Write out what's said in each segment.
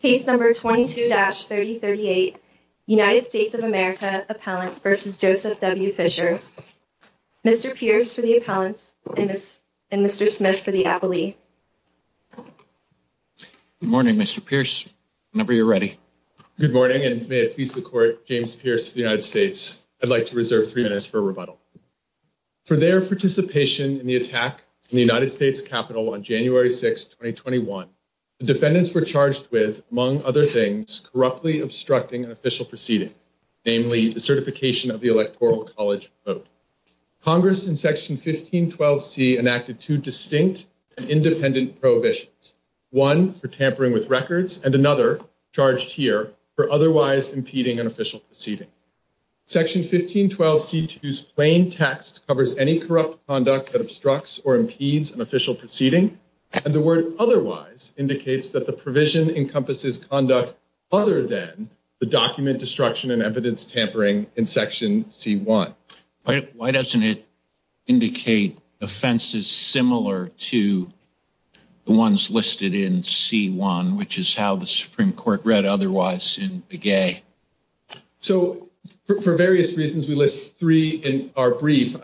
Case No. 22-3038, United States of America Appellant v. Joseph W. Fischer Mr. Pierce for the Appellant and Mr. Smith for the Appellee Good morning Mr. Pierce, whenever you're ready Good morning and may it please the Court, James Pierce of the United States I'd like to reserve three minutes for rebuttal For their participation in the attack on the United States Capitol on January 6, 2021 The defendants were charged with, among other things, corruptly obstructing an official proceeding Namely, the certification of the electoral college vote Congress in Section 1512C enacted two distinct and independent prohibitions One, for tampering with records, and another, charged here, for otherwise impeding an official proceeding Section 1512C2's plain text covers any corrupt conduct that obstructs or impedes an official proceeding And the word otherwise indicates that the provision encompasses conduct other than the document destruction and evidence tampering in Section C1 Why doesn't it indicate offenses similar to the ones listed in C1, which is how the Supreme Court read otherwise in Begay? So, for various reasons we list three in our brief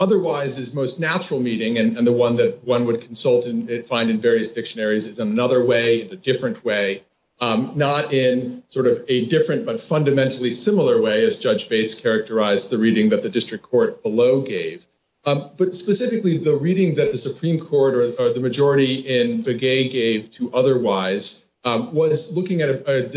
Otherwise is most natural meaning, and the one that one would consult and find in various dictionaries is another way, a different way Not in sort of a different but fundamentally similar way as Judge Bates characterized the reading that the district court below gave But specifically the reading that the Supreme Court or the majority in Begay gave to otherwise Was looking at a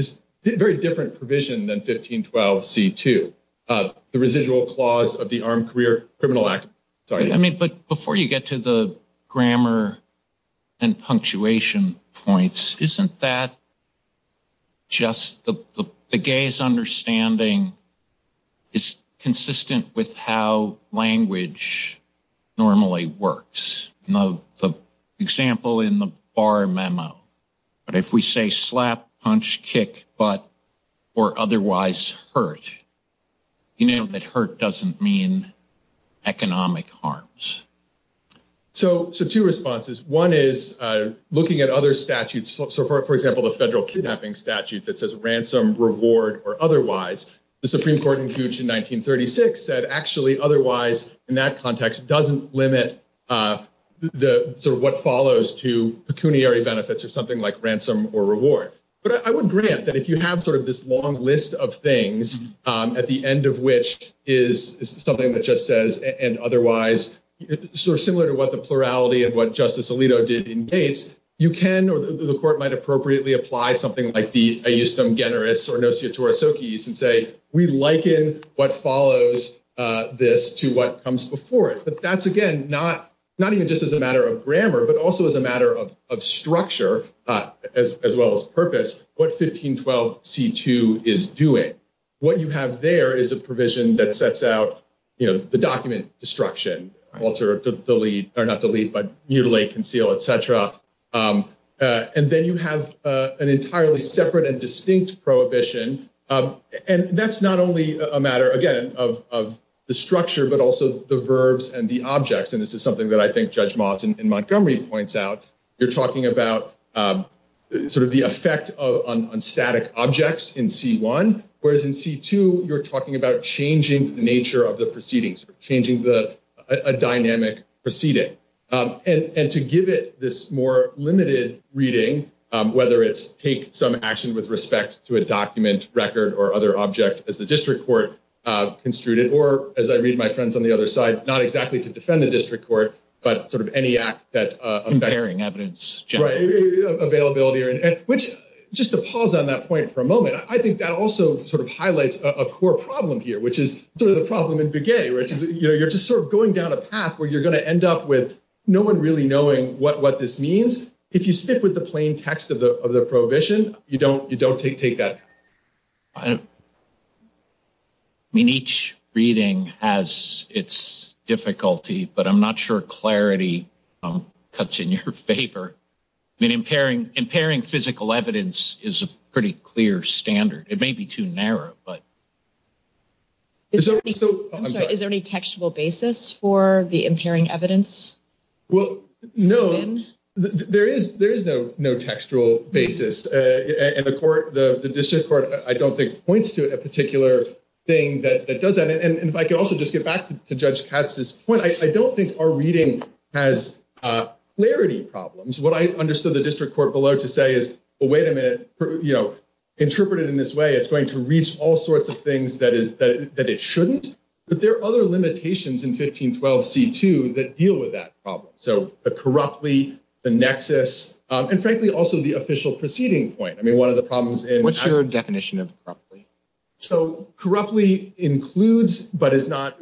very different provision than 1512C2 The residual clause of the Armed Career Criminal Act But before you get to the grammar and punctuation points, isn't that just Begay's understanding is consistent with how language normally works? The example in the bar memo, but if we say slap, punch, kick, butt, or otherwise hurt You know that hurt doesn't mean economic harms So two responses, one is looking at other statutes, so for example the federal kidnapping statute that says ransom, reward, or otherwise The Supreme Court in 1936 said actually otherwise in that context doesn't limit sort of what follows to pecuniary benefits or something like ransom or reward But I would grant that if you have sort of this long list of things at the end of which is something that just says and otherwise Sort of similar to what the plurality of what Justice Alito did in case You can or the court might appropriately apply something like the Aeustum Generis or Notior Torosokis And say we liken what follows this to what comes before it But that's again not even just as a matter of grammar but also as a matter of structure as well as purpose What 1512C2 is doing What you have there is a provision that sets out the document destruction, alter, delete, or not delete but mutilate, conceal, etc And then you have an entirely separate and distinct prohibition And that's not only a matter again of the structure but also the verbs and the objects And this is something that I think Judge Malton in Montgomery points out You're talking about sort of the effect on static objects in C1 Whereas in C2 you're talking about changing the nature of the proceedings Changing the dynamic proceeding And to give it this more limited reading Whether it's take some action with respect to a document, record, or other object as the district court construed it Or as I read my friends on the other side, not exactly to defend the district court But sort of any act that Comparing evidence Right, availability Which just to pause on that point for a moment I think that also sort of highlights a core problem here Which is the problem in Begay You're just sort of going down a path where you're going to end up with no one really knowing what this means If you stick with the plain text of the prohibition, you don't take that I mean, each reading has its difficulty But I'm not sure clarity cuts in your favor I mean, impairing physical evidence is a pretty clear standard It may be too narrow, but Is there any textual basis for the impairing evidence? Well, no There is no textual basis And the district court, I don't think, points to a particular thing that does that And if I could also just get back to Judge Katz's point I don't think our reading has clarity problems What I understood the district court below to say is Well, wait a minute Interpreted in this way, it's going to reach all sorts of things that it shouldn't But there are other limitations in 1512c2 that deal with that problem So the corruptly, the nexus, and frankly also the official proceeding point I mean, one of the problems in What's your definition of corruptly? So corruptly includes but is not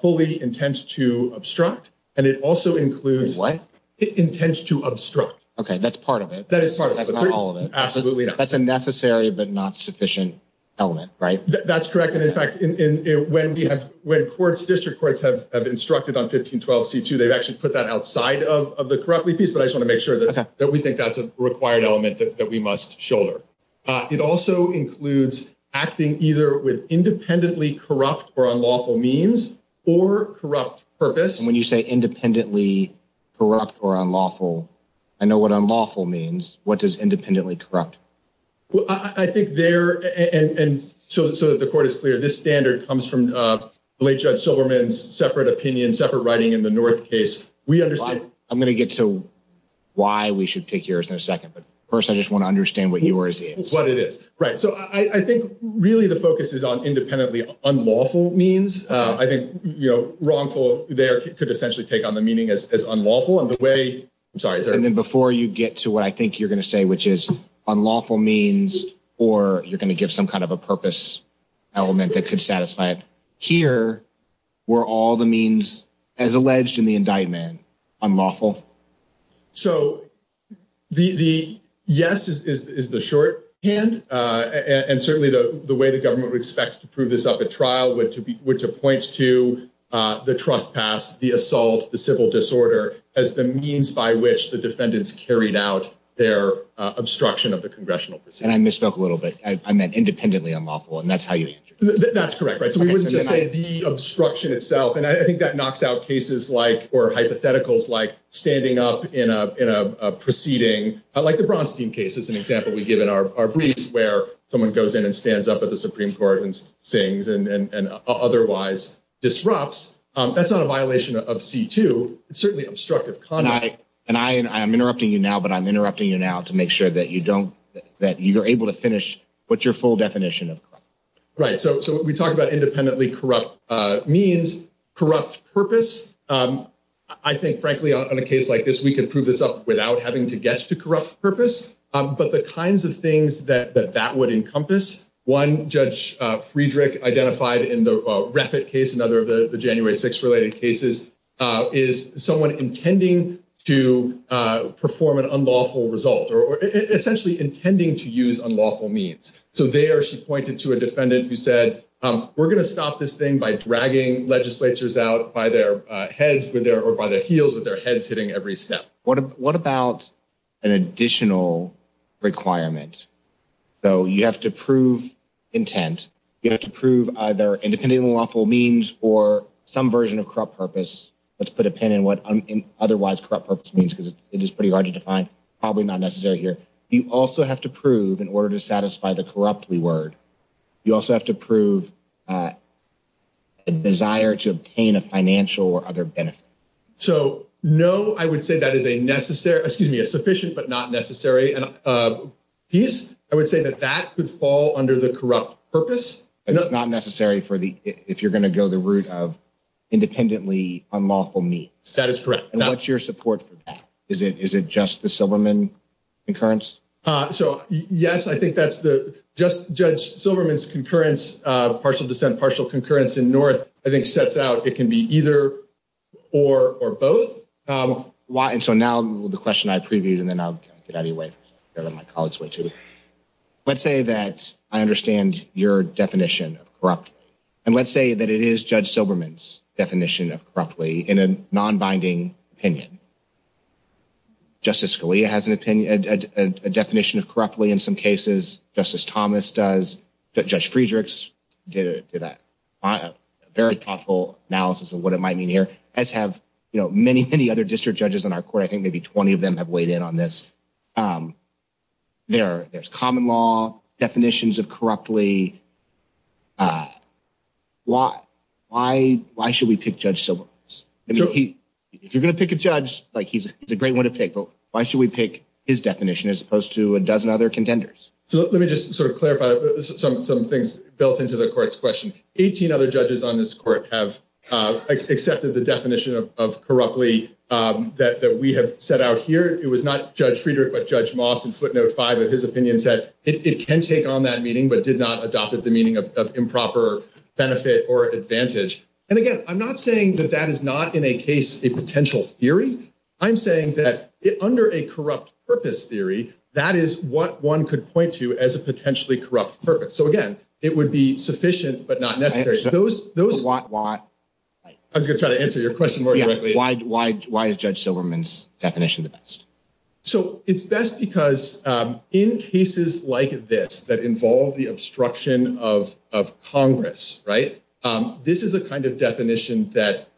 fully intent to obstruct And it also includes What? It intends to obstruct Okay, that's part of it That is part of it That's not all of it Absolutely not That's a necessary but not sufficient element, right? That's correct And in fact, when courts, district courts have instructed on 1512c2 They've actually put that outside of the corruptly piece But I just want to make sure that we think that's a required element that we must shoulder It also includes acting either with independently corrupt or unlawful means Or corrupt purpose And when you say independently corrupt or unlawful I know what unlawful means What does independently corrupt? I think there, and so that the court is clear This standard comes from the late Judge Silverman's separate opinion, separate writing in the North case We understand I'm going to get to why we should take yours in a second But first, I just want to understand what yours is What it is Right, so I think really the focus is on independently unlawful means I think, you know, wrongful there could essentially take on the meaning as unlawful And the way, I'm sorry And then before you get to what I think you're going to say, which is unlawful means Or you're going to give some kind of a purpose element that could satisfy it Here, were all the means as alleged in the indictment unlawful? So, the yes is the short hand And certainly the way the government would expect to prove this at the trial Which points to the trespass, the assault, the civil disorder As the means by which the defendants carried out their obstruction of the congressional proceedings And I misspoke a little bit I meant independently unlawful and that's how you That's correct, right So we wouldn't say the obstruction itself And I think that knocks out cases like or hypotheticals like standing up in a proceeding Like the Braunstein case is an example we give in our briefs Where someone goes in and stands up at the Supreme Court and sings and otherwise disrupts That's not a violation of C2 It's certainly obstructive conduct I'm interrupting you now, but I'm interrupting you now to make sure that you don't That you're able to finish with your full definition Right, so we talked about independently corrupt means, corrupt purpose I think frankly on a case like this we can prove this up without having to guess the corrupt purpose But the kinds of things that that would encompass One, Judge Friedrich identified in the Rapid case Another of the January 6th related cases Is someone intending to perform an unlawful result Essentially intending to use unlawful means So there she pointed to a defendant who said We're going to stop this thing by dragging legislatures out by their heads Or by the heels of their heads hitting every step What about an additional requirement? So you have to prove intent You have to prove either independently unlawful means or some version of corrupt purpose Let's put a pin in what otherwise corrupt purpose means Because it is pretty hard to define, probably not necessary here You also have to prove, in order to satisfy the corruptly word You also have to prove a desire to obtain a financial or other benefit So no, I would say that is a sufficient but not necessary piece I would say that that could fall under the corrupt purpose But not necessary if you're going to go the route of independently unlawful means That is correct And what's your support for that? Is it just the Silberman concurrence? So yes, I think that's the Just Judge Silberman's concurrence Partial dissent, partial concurrence in North I think sets out it can be either or both So now the question I previewed and then I'll get out of your way Let's say that I understand your definition of corrupt And let's say that it is Judge Silberman's definition of corruptly in a non-binding opinion Justice Scalia has a definition of corruptly in some cases Justice Thomas does Judge Friedrichs did that Very thoughtful analysis of what it might mean here As have many, many other district judges in our court I think maybe 20 of them have weighed in on this There's common law, definitions of corruptly Why should we pick Judge Silberman? If you're going to pick a judge, he's a great one to pick But why should we pick his definition as opposed to a dozen other contenders? So let me just sort of clarify some things built into the court's question I think 18 other judges on this court have accepted the definition of corruptly That we have set out here It was not Judge Friedrich but Judge Moss in footnote 5 of his opinion That it can take on that meaning but did not adopt the meaning of improper benefit or advantage And again, I'm not saying that that is not in a case a potential theory I'm saying that under a corrupt purpose theory That is what one could point to as a potentially corrupt purpose So again, it would be sufficient but not necessary I'm going to try to answer your question more directly Why is Judge Silberman's definition the best? So it's best because in cases like this That involve the obstruction of Congress This is the kind of definition that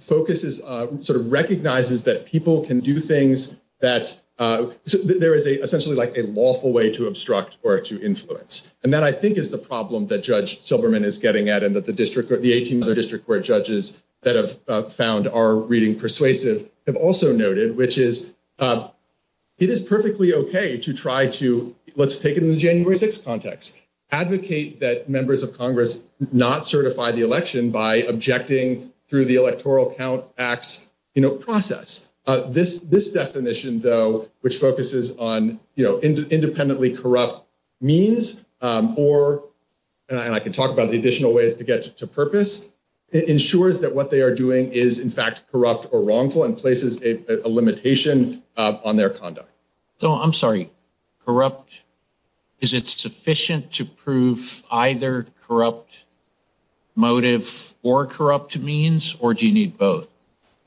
focuses Sort of recognizes that people can do things that There is essentially a lawful way to obstruct or to influence And that I think is the problem that Judge Silberman is getting at And that the 18 other district court judges that have found our reading persuasive Have also noted which is It is perfectly okay to try to Let's take it in the January 6th context Advocate that members of Congress not certify the election By objecting through the Electoral Count Act process This definition though which focuses on Independently corrupt means or And I can talk about the additional ways to get to purpose It ensures that what they are doing is in fact corrupt or wrongful And places a limitation on their conduct So I'm sorry, corrupt Is it sufficient to prove either corrupt motive or corrupt means Or do you need both?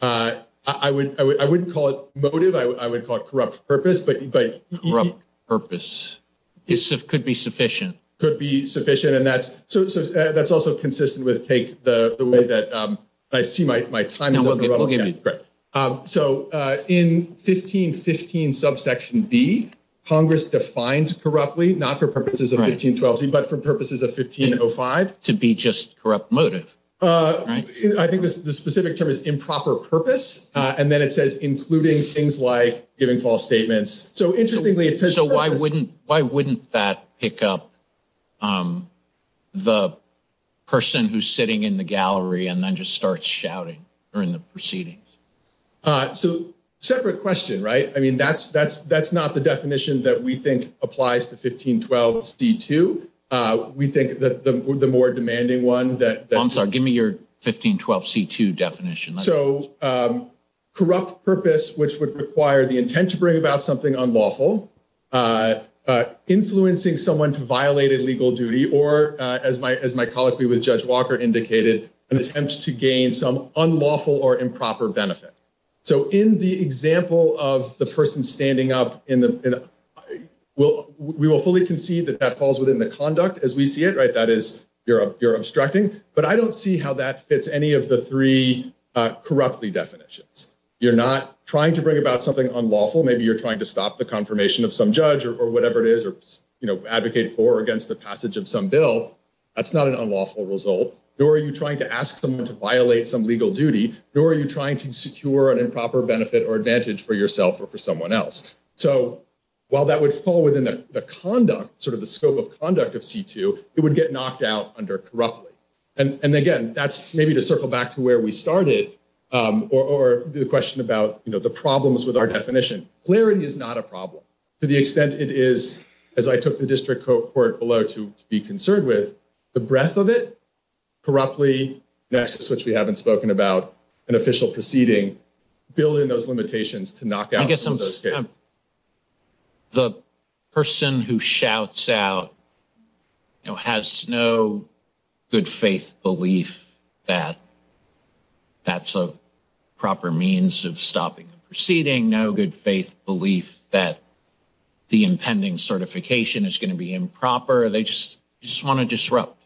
I wouldn't call it motive I would call it corrupt purpose Corrupt purpose could be sufficient Could be sufficient and that's also consistent with The way that I see my time So in 1515 subsection B Congress defines corruptly not for purposes of 1512 But for purposes of 1505 To be just corrupt motive I think the specific term is improper purpose And then it says including things like Giving false statements So why wouldn't that pick up The person who's sitting in the gallery And then just starts shouting during the proceedings So separate question, right? I mean that's not the definition that we think applies to 1512 C2 We think the more demanding one I'm sorry, give me your 1512 C2 definition So corrupt purpose which would require The intent to bring about something unlawful Influencing someone to violate a legal duty Or as my colleague with Judge Walker indicated An attempt to gain some unlawful or improper benefit So in the example of the person standing up We will fully concede that that falls within the conduct As we see it, right? That is, you're obstructing But I don't see how that fits any of the three Corruptly definitions You're not trying to bring about something unlawful Maybe you're trying to stop the confirmation of some judge Or whatever it is Advocate for or against the passage of some bill That's not an unlawful result Nor are you trying to ask someone to violate some legal duty Nor are you trying to secure an improper benefit Or advantage for yourself or for someone else So while that would fall within the conduct Sort of the scope of conduct of C2 It would get knocked out under corruptly And again, that's maybe to circle back to where we started Or the question about the problems with our definition Clearing is not a problem To the extent it is As I took the district court below to be concerned with The breadth of it Corruptly Next, which we haven't spoken about An official proceeding Building those limitations to knock out some of those kids The person who shouts out Has no good faith belief That that's a proper means of stopping the proceeding No good faith belief that the impending certification Is going to be improper They just want to disrupt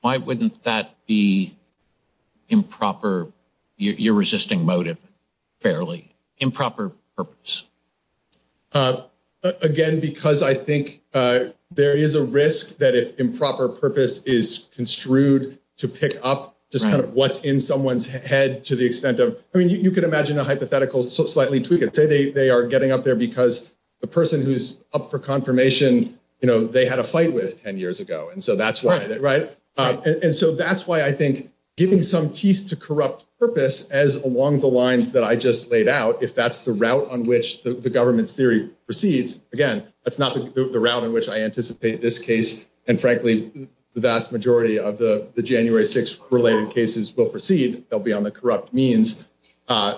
Why wouldn't that be improper You're resisting motive Fairly Improper purpose Again, because I think There is a risk that if improper purpose is construed To pick up Just kind of what's in someone's head To the extent of I mean, you can imagine a hypothetical They are getting up there because The person who's up for confirmation You know, they had a fight with it 10 years ago And so that's why And so that's why I think Giving some teeth to corrupt purpose As along the lines that I just laid out If that's the route on which the government's theory proceeds Again, that's not the route in which I anticipate this case And frankly, the vast majority of the January 6th related cases Will proceed They'll be on the corrupt means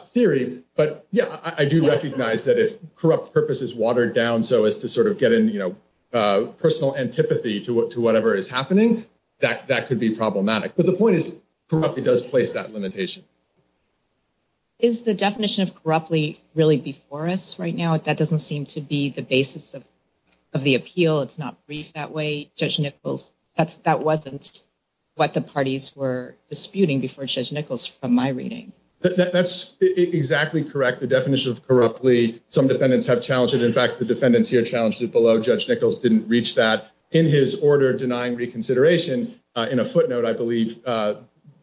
theory But yeah, I do recognize that if corrupt purpose is watered down So as to sort of get in, you know Personal antipathy to whatever is happening That could be problematic But the point is It does place that limitation Is the definition of corruptly really before us right now? That doesn't seem to be the basis of the appeal It's not briefed that way Judge Nichols That wasn't what the parties were disputing Before Judge Nichols from my reading That's exactly correct The definition of corruptly Some defendants have challenged it In fact, the defendants here challenged it below Judge Nichols didn't reach that In his order denying reconsideration In a footnote, I believe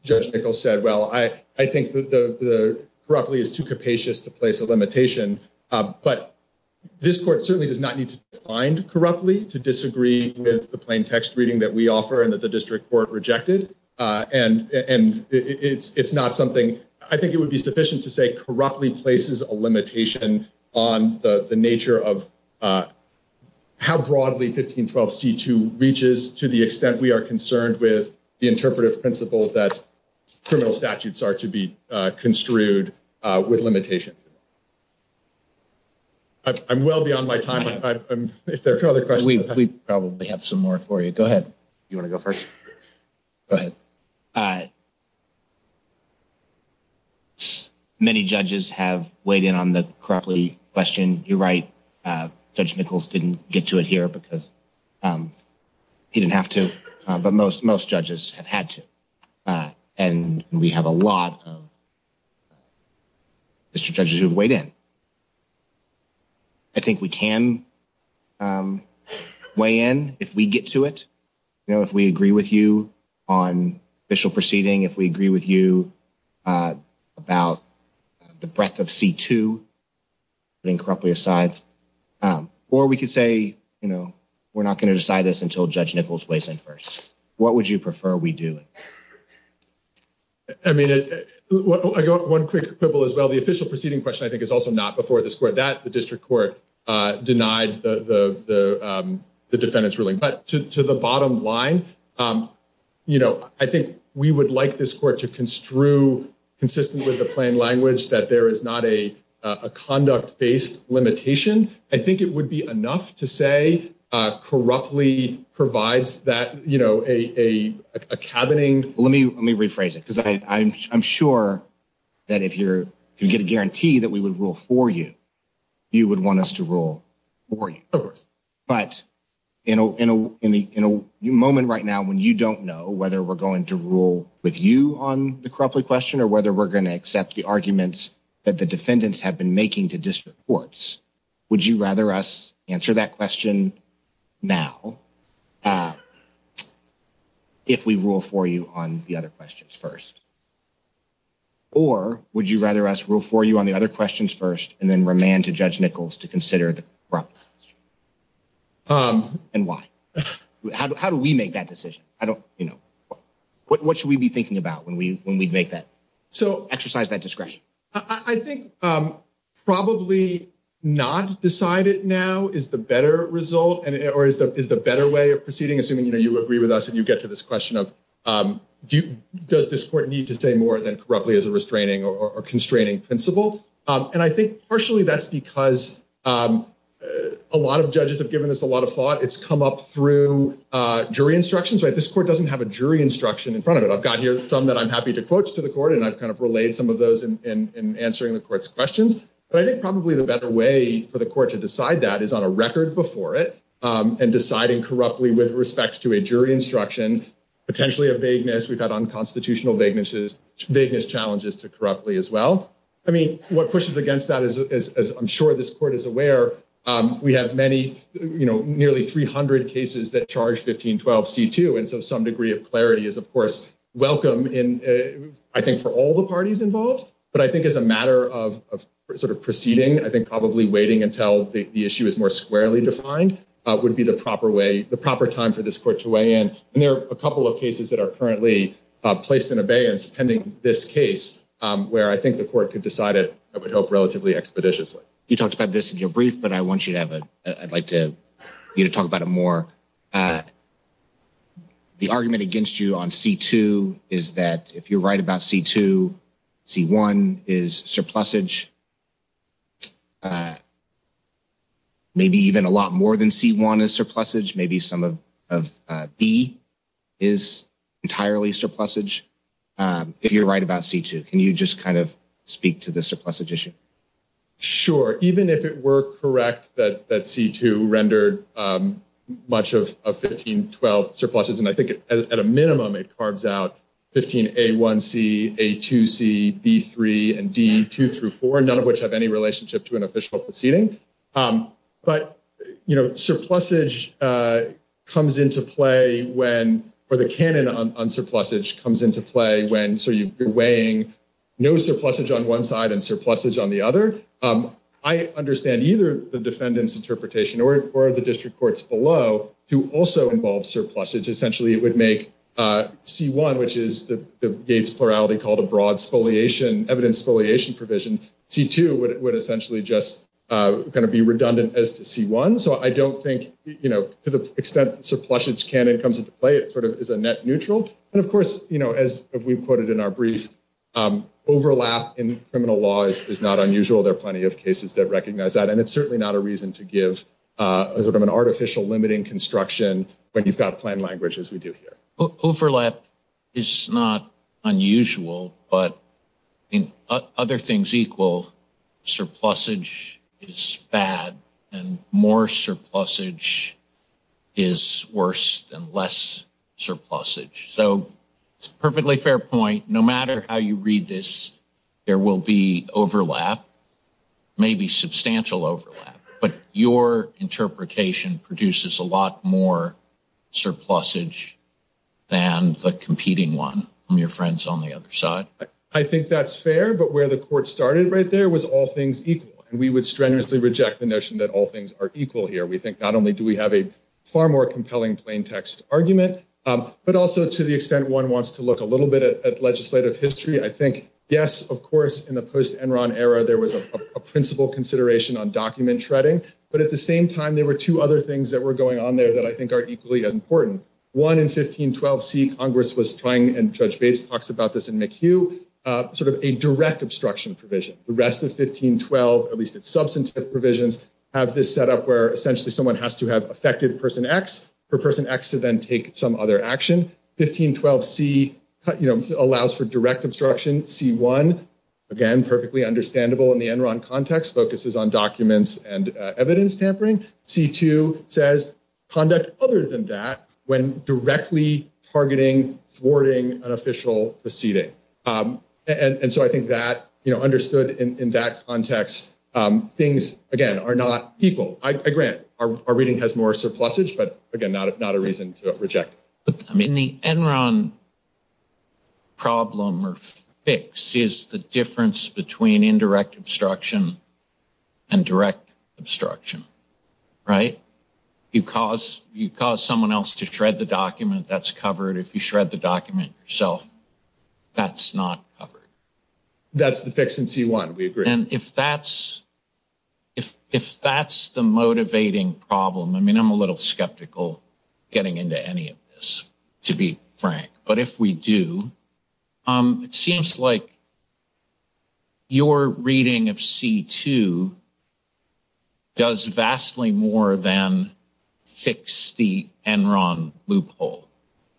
Judge Nichols said Well, I think the corruptly is too capacious to place a limitation But this court certainly does not need to be defined corruptly To disagree with the plain text reading that we offer And that the district court rejected And it's not something I think it would be sufficient to say Corruptly places a limitation on the nature of How broadly 1512c2 reaches To the extent we are concerned with The interpretive principles that Criminal statutes are to be construed With limitations I'm well beyond my time If there are no other questions We probably have some more for you Go ahead You want to go first? Go ahead Many judges have weighed in on the corruptly question You're right Judge Nichols didn't get to it here Because he didn't have to But most judges have had to And we have a lot of District judges who have weighed in I think we can Weigh in if we get to it You know, if we agree with you On official proceeding If we agree with you About the breadth of c2 Incorruptly aside Or we could say We're not going to decide this Until Judge Nichols weighs in first What would you prefer we do? I mean One quick quibble as well The official proceeding question I think is also not before this court That the district court Denied the defendant's ruling But to the bottom line I think we would like this court To construe consistently That there is not a Conduct-based limitation I think it would be enough to say Corruptly provides that You know, a cabining Let me rephrase it Because I'm sure That if you get a guarantee That we would rule for you You would want us to rule for you But in a moment right now When you don't know Whether we're going to rule with you On the corruptly question Or whether we're going to accept The arguments that the defendants Have been making to district courts Would you rather us Answer that question now If we rule for you On the other questions first Or would you rather us Rule for you on the other questions first And then remand to Judge Nichols To consider the corruptly question And why? How do we make that decision? I don't, you know What should we be thinking about When we make that? So exercise that discretion I think probably not decided now Is the better result Or is the better way of proceeding Assuming you agree with us And you get to this question of Does this court need to say more Than corruptly as a restraining Or constraining principle? And I think partially that's because A lot of judges have given this a lot of thought It's come up through jury instructions This court doesn't have a jury instruction In front of it I've got here some that I'm happy to Quote to the court And I've kind of relayed some of those In answering the court's questions But I think probably the better way For the court to decide that Is on a record before it And deciding corruptly With respect to a jury instruction Potentially a vagueness We've got unconstitutional vaguenesses Vagueness challenges to corruptly as well I mean what pushes against that Is I'm sure this court is aware We have many, you know Nearly 300 cases that charge 1512 C2 And so some degree of clarity Is of course welcome I think for all the parties involved But I think as a matter of Sort of proceeding I think probably waiting until The issue is more squarely defined Would be the proper way The proper time for this court to weigh in And there are a couple of cases That are currently placed in abeyance Pending this case Where I think the court could decide It would help relatively expeditiously You talked about this in your brief But I want you to have a I'd like you to talk about it more The argument against you on C2 Is that if you're right about C2 C1 is surplusage Maybe even a lot more than C1 is surplusage Maybe some of B is entirely surplusage If you're right about C2 Can you just kind of Speak to the surplusage issue Sure, even if it were correct That C2 rendered much of 1512 surpluses And I think at a minimum It carves out 15A1C, A2C, B3, and D2-4 None of which have any relationship To an official proceeding But surplusage comes into play When for the canon on surplusage Comes into play when So you're weighing no surplusage on one side And surplusage on the other I understand either The defendant's interpretation Or the district court's below To also involve surplusage Essentially it would make C1 Which is the base plurality Called a broad evidence foliation provision C2 would essentially just Kind of be redundant as to C1 So I don't think To the extent surplusage canon comes into play It sort of is a net neutral And of course, as we've quoted in our brief Overlap in criminal law is not unusual There are plenty of cases That recognize that And it's certainly not a reason To give an artificial limiting construction When you've got plain language As we do here Overlap is not unusual But in other things equal Surplusage is bad And more surplusage is worse Than less surplusage So it's a perfectly fair point No matter how you read this There will be overlap Maybe substantial overlap But your interpretation Produces a lot more surplusage Than the competing one From your friends on the other side I think that's fair But where the court started right there Was all things equal And we would strenuously reject the notion That all things are equal here We think not only do we have a Far more compelling plain text argument But also to the extent One wants to look a little bit At legislative history I think yes, of course In the post-Enron era There was a principal consideration On document shredding But at the same time There were two other things That were going on there That I think are equally important One in 1512c Congress was trying And Judge Bates talks about this in McHugh Sort of a direct obstruction provision The rest of 1512 At least its substantive provisions Have this set up Where essentially someone Has to have affected person X For person X to then take Some other action 1512c allows for direct obstruction C1, again, perfectly understandable In the Enron context Focuses on documents And evidence tampering C2 says conduct other than that When directly targeting Thwarting an official proceeding And so I think that You know, understood in that context Things, again, are not equal I grant Our reading has more surpluses But again, not a reason to reject I mean, the Enron problem or fix Is the difference between Indirect obstruction And direct obstruction Right? You cause someone else To shred the document That's covered If you shred the document yourself That's not covered That's the fix in C1, we agree And if that's If that's the motivating problem I mean, I'm a little skeptical Getting into any of this To be frank But if we do It seems like Your reading of C2 Does vastly more than Fix the Enron loophole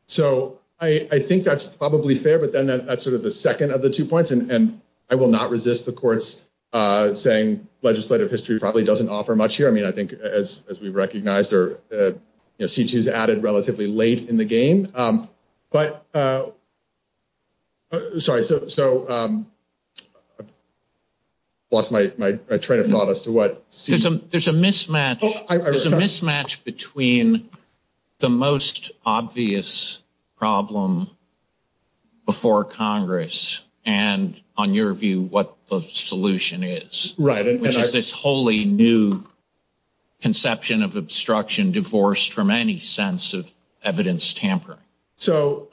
So I think that's probably fair But then that's sort of The second of the two points And I will not resist the courts Saying legislative history Probably doesn't offer much here I mean, I think as we recognize C2 is added relatively late in the game But Sorry, so Lost my train of thought as to what There's a mismatch There's a mismatch between The most obvious problem Before Congress And on your view What the solution is Right Which is this wholly new Conception of obstruction Divorced from any sense of Evidence tamper So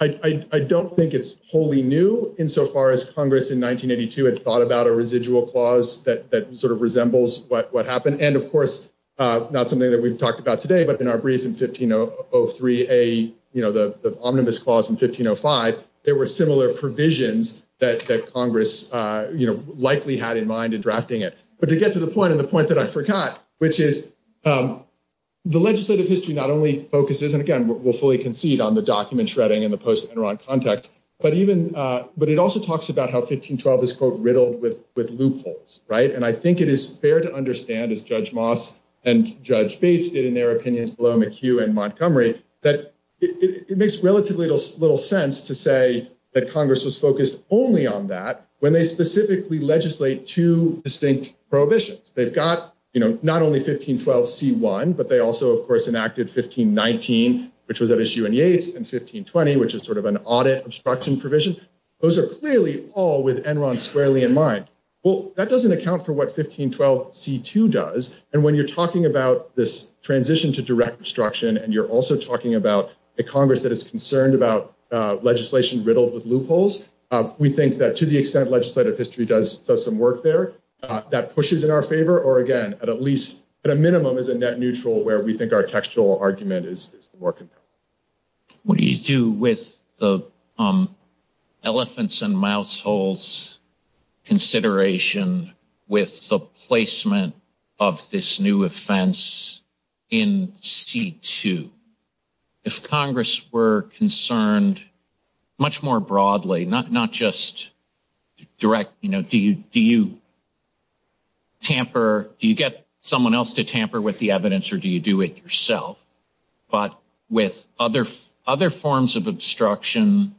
I don't think it's wholly new In so far as Congress in 1982 Had thought about a residual clause That sort of resembles what happened And of course Not something that we've talked about today But in our brief in 1503 A, you know, the omnibus clause in 1505 There were similar provisions That Congress, you know Likely had in mind in drafting it But to get to the point And the point that I forgot Which is The legislative history Not only focuses And again, we'll fully concede On the document shredding And the post-Enron context But even But it also talks about how 1512 Is, quote, riddled with loopholes Right And I think it is fair to understand As Judge Moss and Judge Bates Did in their opinions Below McHugh and Montgomery That it makes relatively little sense To say that Congress is focused Only on that When they specifically legislate Two distinct prohibitions They've got, you know Not only 1512c1 But they also, of course Enacted 1519 Which was at issue in Yates And 1520 Which is sort of an audit Obstruction provision Those are clearly all With Enron squarely in mind Well, that doesn't account For what 1512c2 does And when you're talking about This transition to direct obstruction And you're also talking about A Congress that is concerned about Legislation riddled with loopholes We think that to the extent Legislative history does Some work there That pushes in our favor Or, again, at least At a minimum Is a net neutral Where we think our textual argument Is working What do you do with The elephants and mouse holes Consideration With the placement Of this new offense In c2 If Congress were concerned Much more broadly Not just Do you Tamper Do you get someone else to tamper With the evidence Or do you do it yourself But with other forms Of obstruction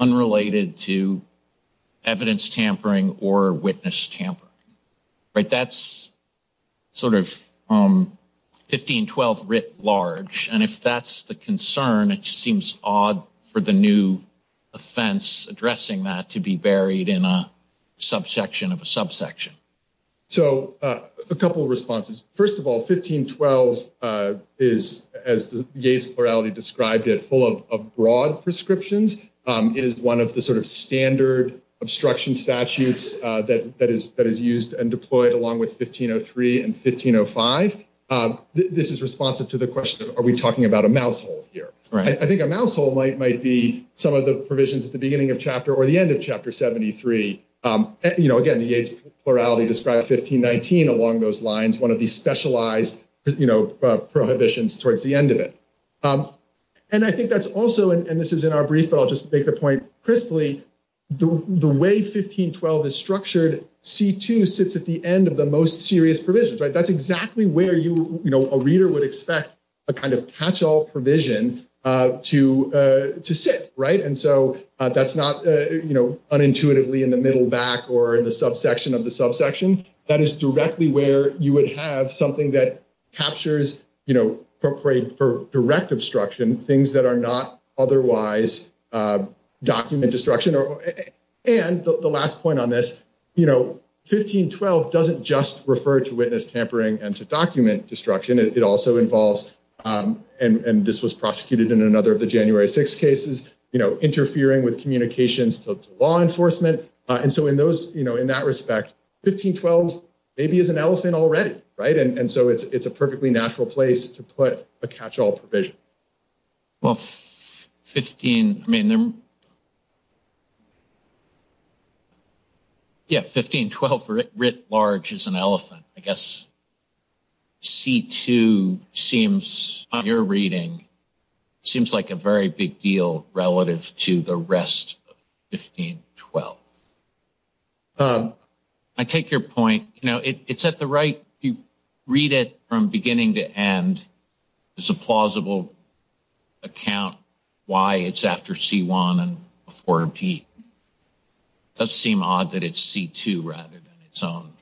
Unrelated to Evidence tampering Or witness tampering Right, that's Sort of 1512 writ large And if that's the concern It seems odd For the new offense Addressing that To be buried in a Subsection of a subsection So, a couple of responses First of all, 1512 Is, as the Yates plurality described it Full of broad prescriptions Is one of the sort of standard Obstruction statutes That is used and deployed Along with 1503 and 1505 This is responsive to the question Are we talking about a mouse hole here I think a mouse hole might be Some of the provisions at the beginning of chapter Or the end of chapter 73 Again, the Yates plurality Described 1519 along those lines One of these specialized Prohibitions towards the end of it And I think that's also And this is in our brief, but I'll just make the point Crisply, the way 1512 is structured C2 sits at the end of the most Serious provisions, that's exactly where A reader would expect A kind of catch-all provision To sit And so that's not Unintuitively in the middle back Or in the subsection of the subsection That is directly where you would Have something that captures For direct Obstruction, things that are not Otherwise Document destruction And the last point on this 1512 doesn't just Go to witness, tampering, and to document Destruction, it also involves And this was prosecuted in Another of the January 6th cases Interfering with communications To law enforcement In that respect, 1512 Maybe is an elephant already And so it's a perfectly natural place To put a catch-all provision Well 15, I mean Yeah, 1512 1512 writ large is an elephant I guess C2 seems On your reading Seems like a very big deal Relative to the rest Of 1512 I take your point You know, it's at the right You read it from beginning to end It's a plausible Account Why it's after C1 And before B It does seem Odd that it's C2 rather than Its own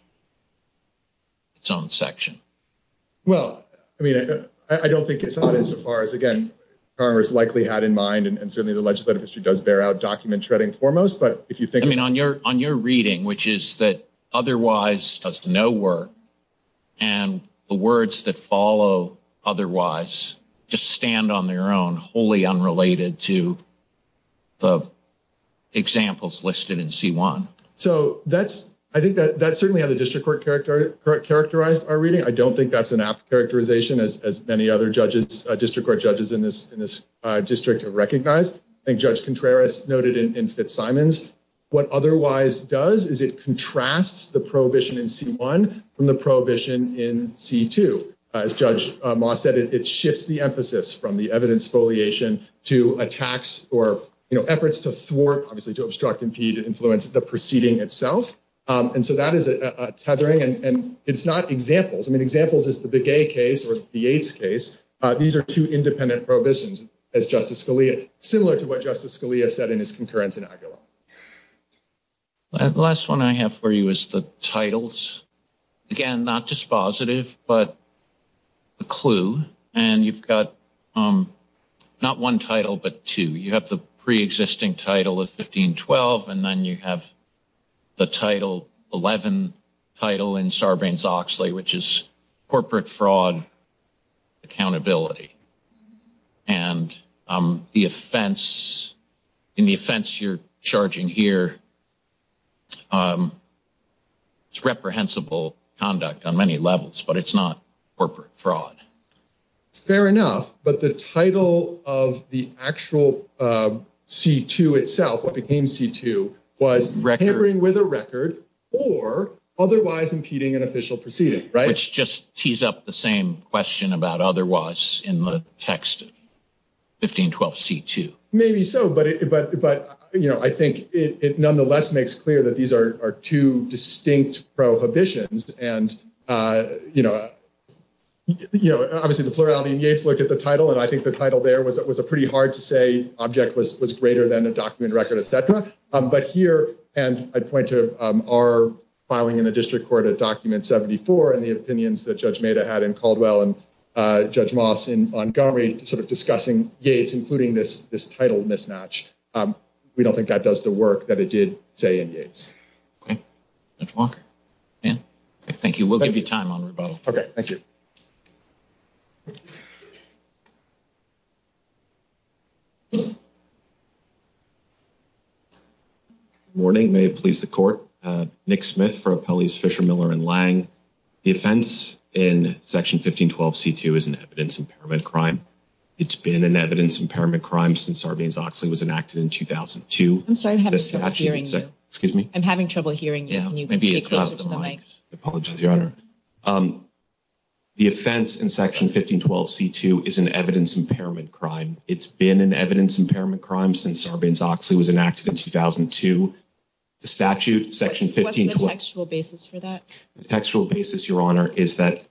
Its own section Well, I mean, I don't think It's odd as far as, again, Congress Likely had in mind, and certainly the legislative History does bear out document shredding foremost But if you think On your reading, which is that Otherwise does no work And the words that follow Otherwise Just stand on their own, wholly unrelated To Examples listed in C1 So that's I think that's certainly how the district court Characterized our reading I don't think that's an apt characterization As many other judges, district court judges In this district have recognized And Judge Contreras noted in Fitzsimons What otherwise does Is it contrasts the prohibition In C1 from the prohibition In C2 As Judge Moss said, it shifts the emphasis From the evidence foliation To attacks or Efforts to thwart, to obstruct, to Influence the proceeding itself And so that is a tethering And it's not examples Examples is the Begay case, or the AIDS case These are two independent prohibitions As Justice Scalia Similar to what Justice Scalia said in his concurrence in Aguila The last one I have for you is the titles Again, not just Positive, but A clue, and you've got Not one title But two, you have the pre-existing Title of 1512, and then you Have the title 11 title in Sarbanes-Oxley, which is Corporate fraud Accountability And the offense In the offense you're Charging here It's reprehensible conduct on many levels But it's not corporate fraud Fair enough But the title of the actual C2 itself What became C2 Was tampering with a record Or otherwise impeding an official Proceeding, right? Which just tees up the same question about otherwise In the text 1512 C2 Maybe so, but I think it nonetheless makes clear That these are two distinct Prohibitions And, you know Obviously the plurality in Yates Looked at the title, and I think the title there Was a pretty hard-to-say object Was greater than the document record, etc. But here, and I point to Our filing in the district court Of document 74, and the opinions That Judge Nader had in Caldwell And Judge Moss in Montgomery Discussing Yates, including this Title mismatch We don't think that does the work that it did To end Yates Okay, Judge Walker Thank you, we'll give you time on rebuttal Okay, thank you Good morning, may it please the court Nick Smith for Appellees Fisher, Miller, and Lang The offense in section 1512 C2 Is an evidence impairment crime It's been an evidence impairment crime Since Sarbanes-Oxley was enacted in 2002 The statute I'm sorry, I'm having trouble hearing you I'm having trouble hearing you I apologize, Your Honor The offense in section 1512 C2 Is an evidence impairment crime It's been an evidence impairment crime Since Sarbanes-Oxley was enacted in 2002 The statute, section 1512 What's the textual basis for that? The textual basis, Your Honor, is that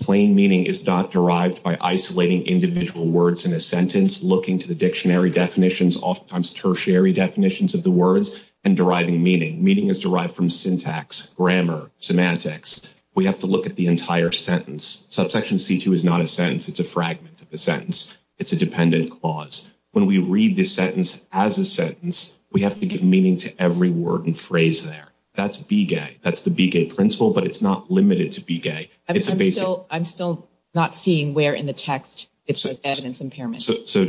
Plain meaning is not derived By isolating individual words in a sentence Looking to the dictionary definitions Oftentimes tertiary definitions of the words And deriving meaning Meaning is derived from syntax, grammar, semantics We have to look at the entire sentence Subsection C2 is not a sentence It's a fragment of a sentence It's a dependent clause When we read this sentence as a sentence We have to give meaning to every word And phrase there That's BGAY, that's the BGAY principle But it's not limited to BGAY I'm still not seeing where in the text It's an evidence impairment So,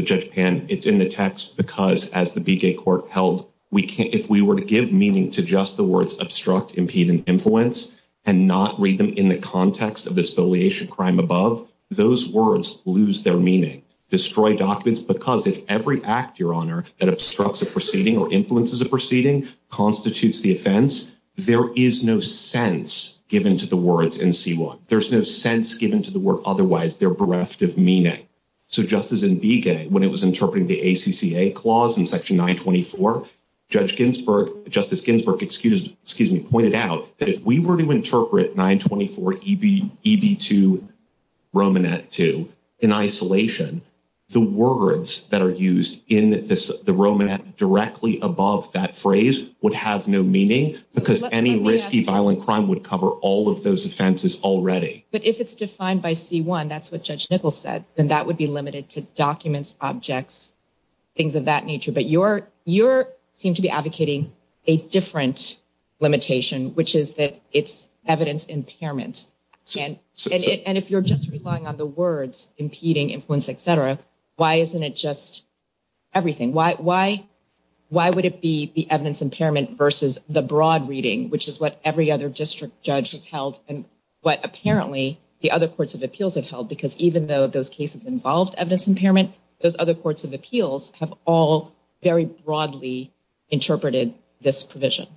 Judge Pan It's in the text because As the BGAY court held If we were to give meaning to just the words Obstruct, impede, and influence And not read them in the context Of the affiliation crime above Those words lose their meaning Destroy documents because If every act, Your Honor, that obstructs a proceeding Or influences a proceeding Constitutes the offense There is no sense given to the words In C1 There's no sense given to the word Otherwise their bereft of meaning So just as in BGAY when it was interpreting The ACCA clause in section 924 Judge Ginsburg Justice Ginsburg, excuse me, pointed out That if we were to interpret 924 EB2 Romanet 2 In isolation The words that are used in The Romanet directly above That phrase would have no meaning Because any risky violent crime Would cover all of those offenses already But if it's defined by C1 That's what Judge Nichols said Then that would be limited to documents, objects Things of that nature But you seem to be advocating A different limitation Which is that it's evidence Impairment And if you're just relying on the words Impeding, influence, etc Why isn't it just everything? Why would it be The evidence impairment versus The broad reading, which is what Every other district judge has held And what apparently the other courts of appeals Have held because even though those cases Involved evidence impairment Those other courts of appeals have all Very broadly interpreted This provision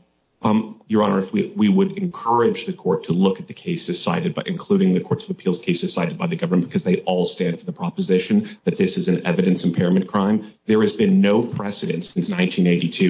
Your honor, we would encourage the court To look at the cases cited Including the courts of appeals cases cited by the government Because they all stand for the proposition That this is an evidence impairment crime There has been no precedence since 1982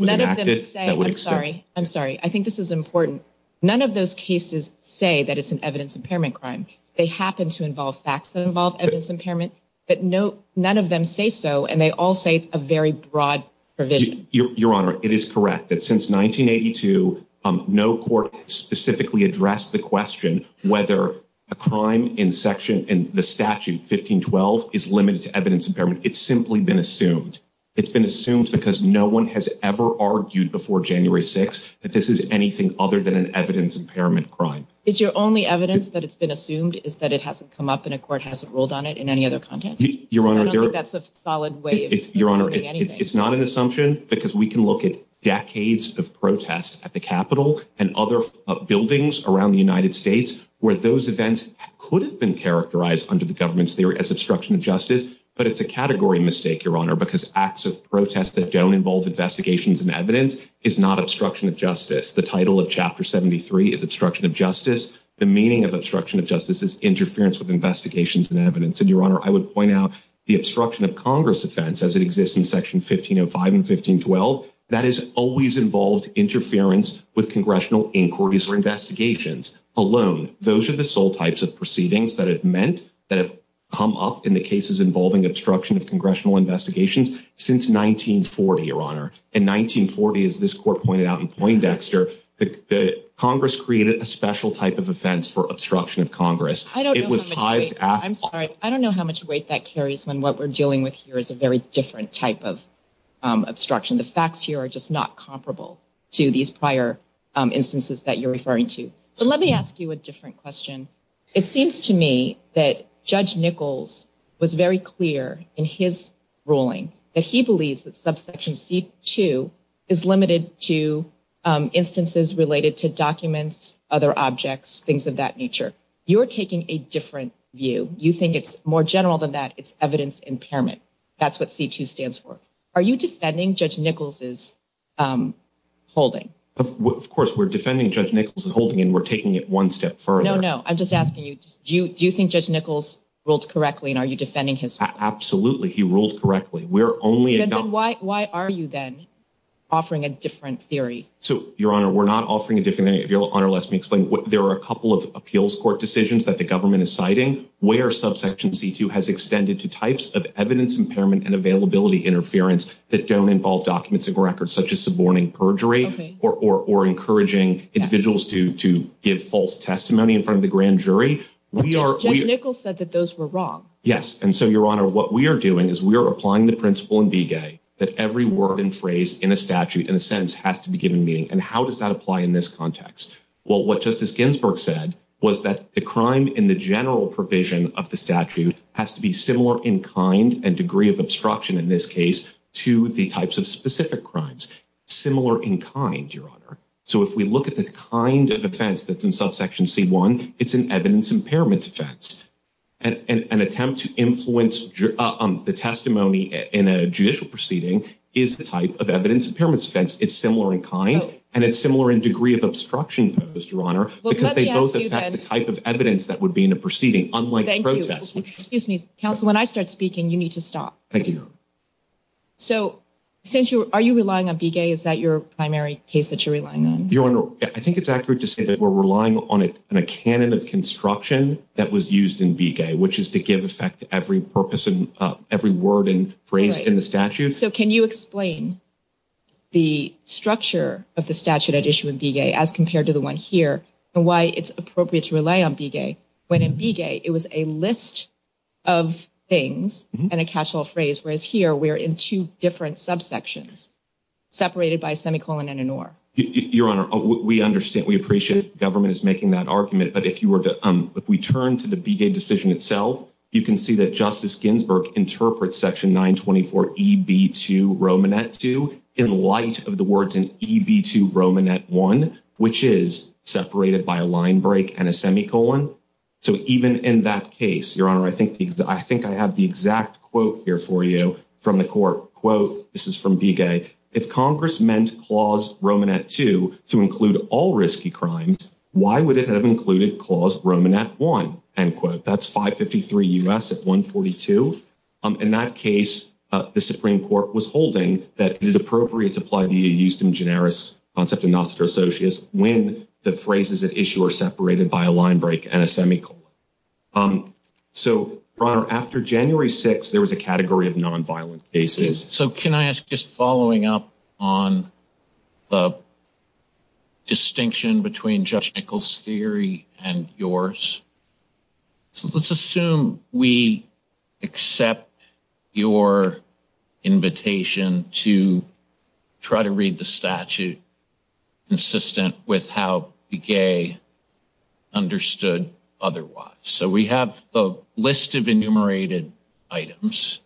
None of them say I'm sorry, I think this is important None of those cases say That it's an evidence impairment crime They happen to involve facts that involve evidence impairment But none of them say so And they all say it's a very broad provision Your honor, it is correct That since 1982 No court specifically addressed The question whether A crime in the statute 1512 is limited to evidence impairment It's simply been assumed It's been assumed because no one Has ever argued before January 6th That this is anything other than An evidence impairment crime It's your only evidence that it's been assumed Is that it hasn't come up and a court hasn't ruled on it In any other context? Your honor, it's not an assumption Because we can look at Decades of protests at the capitol And other buildings Around the United States Where those events could have been characterized Under the government's theory as obstruction of justice But it's a category mistake, your honor Because acts of protest that don't involve Investigations and evidence Is not obstruction of justice The title of chapter 73 is obstruction of justice The meaning of obstruction of justice Is interference with investigations and evidence And your honor, I would point out The obstruction of congress defense As it exists in section 1505 and 1512 That it always involves interference With congressional inquiries or investigations Alone Those are the sole types of proceedings That have meant That have come up in the cases involving Obstruction of congressional investigations Since 1940, your honor In 1940, as this court pointed out In Poindexter Congress created a special type of offense For obstruction of congress I don't know how much weight that carries When what we're dealing with here Is a very different type of obstruction The facts here are just not comparable To these prior instances That you're referring to But let me ask you a different question It seems to me that Judge Nichols was very clear In his ruling That he believes that subsection c2 Is limited to Instances related to documents Other objects Things of that nature You're taking a different view You think it's more general than that It's evidence impairment That's what c2 stands for Are you defending Judge Nichols' holding? Of course, we're defending Judge Nichols' holding And we're taking it one step further No, no, I'm just asking you Do you think Judge Nichols ruled correctly And are you defending his holding? Absolutely, he ruled correctly Why are you then Offering a different theory? Your honor, we're not offering a different theory There are a couple of appeals court decisions That the government is citing Where subsection c2 has extended to types Of evidence impairment and availability interference That don't involve documents And records such as suborning perjury Or encouraging individuals To give false testimony In front of the grand jury Judge Nichols said that those were wrong Yes, and so your honor, what we are doing Is we are applying the principle in v-gag That every word and phrase in a statute In a sentence has to be given meaning And how does that apply in this context? Well, what Justice Ginsburg said Was that the crime in the general provision Of the statute has to be similar In kind and degree of obstruction In this case to the types of specific crimes Similar in kind, your honor So if we look at the kind of offense That's in subsection c1 It's an evidence impairment offense An attempt to influence The testimony In a judicial proceeding Is the type of evidence impairment offense It's similar in kind And it's similar in degree of obstruction Because they both affect the type of evidence That would be in a proceeding Unlike a protest Excuse me, counsel, when I start speaking You need to stop So, are you relying on v-gag? Is that your primary case that you're relying on? Your honor, I think it's accurate to say That we're relying on a canon of construction That was used in v-gag Which is to give effect to every purpose Of every word and phrase in the statute So can you explain The structure Of the statute at issue of v-gag As compared to the one here And why it's appropriate to rely on v-gag When in v-gag it was a list Of things And a casual phrase Whereas here we're in two different subsections Separated by a semicolon and an or Your honor, we understand We appreciate the government is making that argument But if we turn to the v-gag decision itself You can see that Justice Ginsburg interprets section 924 EB2 Romanet 2 in light of the words In EB2 Romanet 1 Which is separated by a line break And a semicolon So even in that case Your honor, I think I have the exact quote here for you From the court Quote, this is from v-gag If congress meant clause Romanet 2 To include all risky crimes Why would it have included clause Romanet 1 End quote That's 553 U.S. at 142 In that case The supreme court was holding That it's appropriate to apply The Euston-Generis concept of nostra socius When the phrases at issue Are separated by a line break and a semicolon So Your honor, after January 6th There was a category of nonviolent cases So can I ask, just following up On The distinction Between Judge Nichols' theory And yours So let's assume we Accept Your invitation To try to read the statute Consistent With how the gay Understood otherwise So we have a list of enumerated Items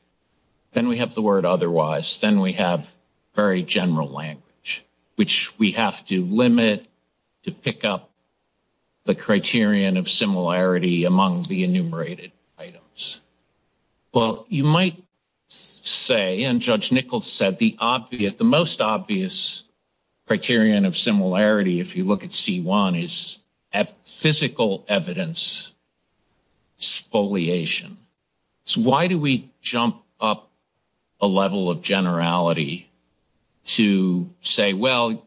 Then we have the word otherwise Then we have very general language Which we have to Limit to pick up The criterion of similarity Among the enumerated Items Well, you might say And Judge Nichols said That the most obvious Criterion of similarity If you look at C1 Is physical evidence Spoliation So why do we Jump up A level of generality To say well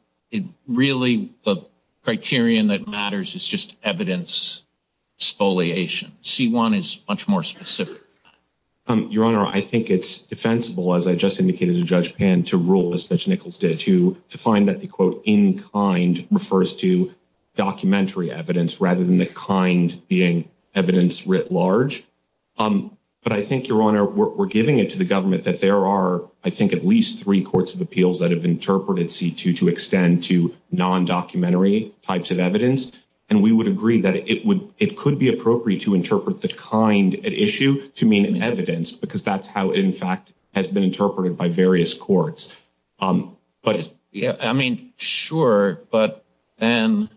Really the Criterion that matters is just Evidence spoliation C1 is much more specific Your honor, I think it's Defensible as I just indicated to Judge Pan To rule as Judge Nichols did To find that the quote in kind Refers to documentary Evidence rather than the kind being Evidence writ large But I think your honor We're giving it to the government that there are I think at least three courts of appeals That have interpreted C2 to extend To non-documentary types Of evidence and we would agree that It could be appropriate to interpret The kind at issue to mean Evidence because that's how in fact Has been interpreted by various courts But I mean sure but Then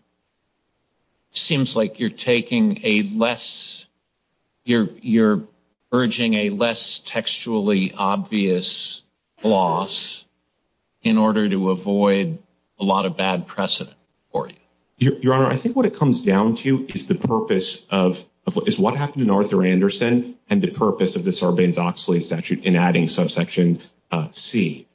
Seems like you're taking a Less You're urging a less Textually obvious Floss In order to avoid A lot of bad precedent for you Your honor, I think what it comes down to Is the purpose of What happened in Arthur Anderson And the purpose of the Sarbanes-Oxley statute In adding subsection C.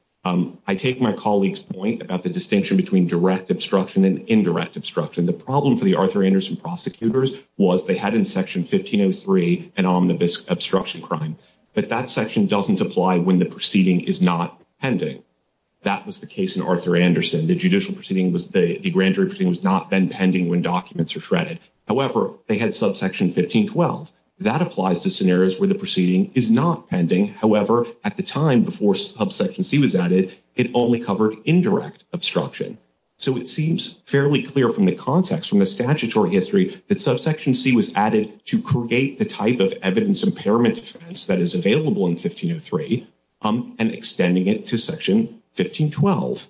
I take my colleague's Point about the distinction between direct Obstruction and indirect obstruction The problem for the Arthur Anderson prosecutors Was they had in section 1503 An omnibus obstruction crime But that section doesn't apply when the Proceeding is not pending That was the case in Arthur Anderson The judicial proceeding was Not pending when documents are threaded However, they had subsection 1512 That applies to scenarios where The proceeding is not pending However, at the time before subsection C was added, it only covered indirect Obstruction So it seems fairly clear from the context From the statutory history that subsection C was added to create the type Of evidence impairment defense that is Available in 1503 And extending it to section 1512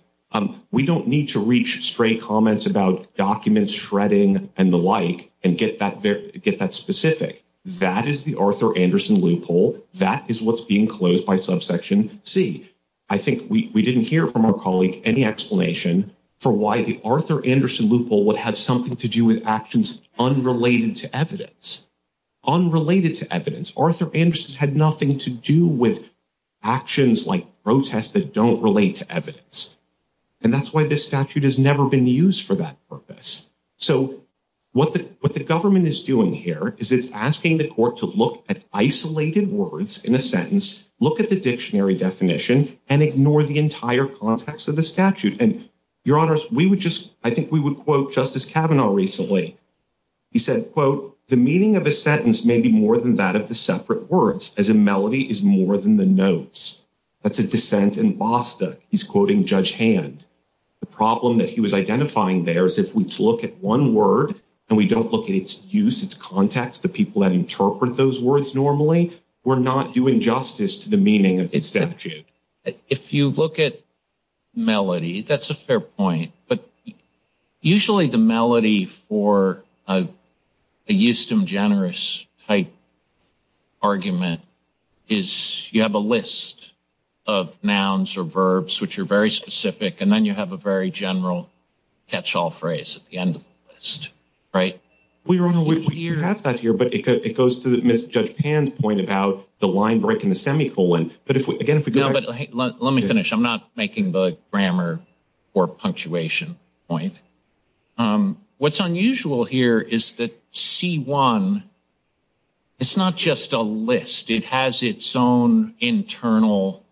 We don't need to reach stray comments about Documents shredding and the like And get that specific That is the Arthur Anderson Loophole. That is what's being closed By subsection C I think we didn't hear from our colleague Any explanation for why the Arthur Anderson loophole would have something To do with actions unrelated to Evidence Arthur Anderson had nothing To do with actions Like protests that don't relate to Evidence. And that's why this So what the Government is doing here is it's asking The court to look at isolated Words in a sentence, look at the Dictionary definition, and ignore The entire context of the statute And your honors, we would just I think we would quote Justice Kavanaugh recently He said quote The meaning of a sentence may be more than that Of the separate words as a melody Is more than the notes That's a dissent in Bostock. He's quoting Judge Hand. The problem That he was identifying there is if we Look at one word and we don't look At its use, its context, the people That interpret those words normally We're not doing justice to the meaning Of the statute. If you Look at melody That's a fair point, but Usually the melody for A Euston Generous type Argument Is you have a list Of nouns or verbs which are Very specific, and then you have a very General catch-all phrase At the end of the list, right? We have that here, but It goes to Judge Pan's point About the line breaking the semicolon But again, if we go back Let me finish. I'm not making the grammar Or punctuation point What's unusual Here is that C1 Is not just a list. It has Its own internal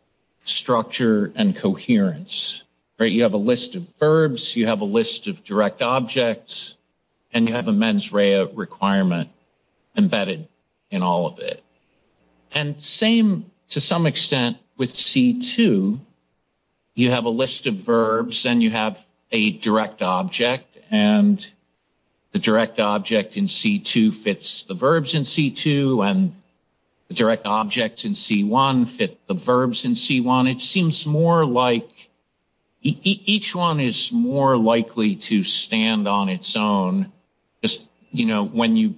Structure and coherence You have a list of Verbs, you have a list of direct Objects, and you have A mens rea requirement Embedded in all of it And same To some extent with C2 You have a list of Verbs, and you have a direct Object, and The direct object in C2 Fits the verbs in C2 And the direct object Fits the verbs in C1 It seems more like Each one is More likely to stand On its own You know, when you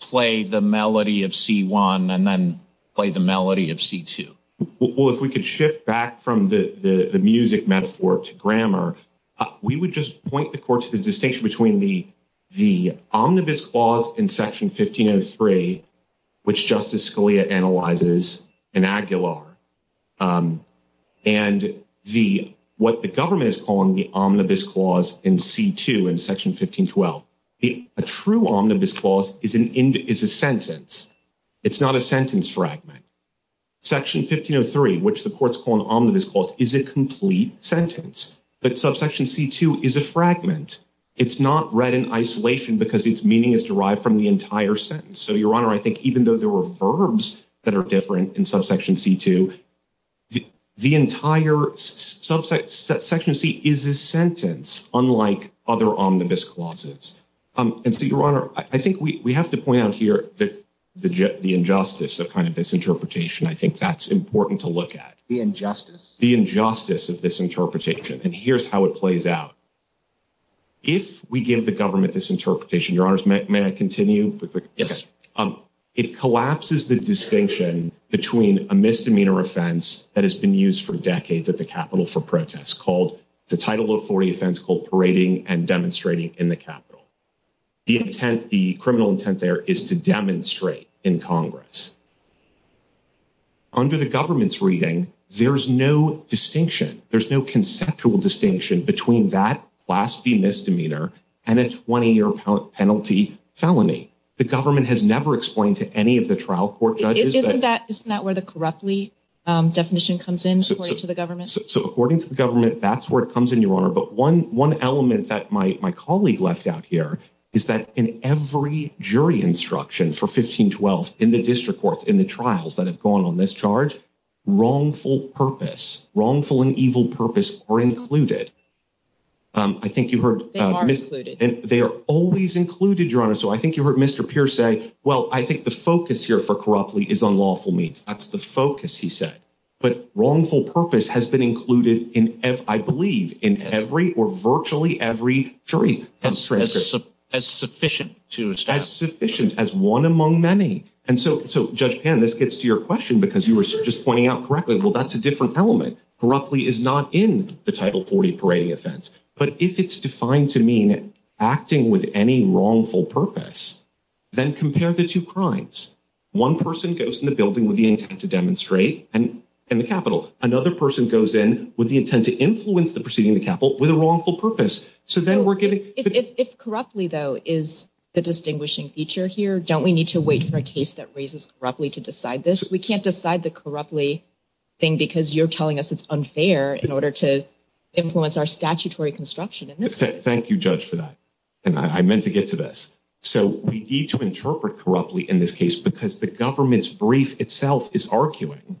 Play the melody of C1 And then play the melody of C2 Well, if we could shift back From the music metaphor To grammar, we would just Point the court to the distinction between The omnibus clause In section 1503 Which Justice Scalia analyzes In Aguilar And What the government is calling The omnibus clause in C2 In section 1512 A true omnibus clause is a Sentence It's not a sentence fragment Section 1503, which the courts call An omnibus clause, is a complete Sentence, but subsection C2 Is a fragment It's not read in isolation because its meaning Is derived from the entire sentence So, Your Honor, I think even though there were verbs That are different in subsection C2 The entire Subsection C Is a sentence, unlike Other omnibus clauses And so, Your Honor, I think we have To point out here that the Injustice, that kind of misinterpretation I think that's important to look at The injustice of this Interpretation, and here's how it plays out If we give The government this interpretation, Your Honor May I continue? It collapses the distinction Between a misdemeanor offense That has been used for decades At the Capitol for protests, called The title of 40 offense called Parading And Demonstrating in the Capitol The intent, the criminal intent there Is to demonstrate in Congress Under the government's reading There's no distinction There's no conceptual distinction between that Class D misdemeanor And a 20 year penalty felony The government has never explained To any of the trial court judges Isn't that where the corruptly Definition comes in, according to the government? According to the government, that's where it comes in, Your Honor But one element that my Colleague left out here Is that in every jury instruction For 1512, in the district court In the trials that have gone on this charge Wrongful purpose Wrongful and evil purpose Are included I think you heard They are always included, Your Honor So I think you heard Mr. Pierce say Well, I think the focus here for corruptly Is on lawful means, that's the focus he said But wrongful purpose has been Included in, I believe In every, or virtually every Jury instruction As sufficient As one among many And so Judge Penn, this gets to your question Because you were just pointing out correctly Well, that's a different element Corruptly is not in the Title 40 Parody Offense But if it's defined to mean Acting with any wrongful Purpose, then compare The two crimes One person goes in the building with the intent to demonstrate And the capital Another person goes in with the intent to influence The proceeding of the capital with a wrongful purpose So then we're getting If corruptly, though, is the distinguishing Feature here, don't we need to wait for a case That raises corruptly to decide this? We can't decide the corruptly Thing because you're telling us it's unfair In order to influence our Statutory construction Thank you, Judge, for that And I meant to get to this So we need to interpret corruptly in this case Because the government's brief itself is arguing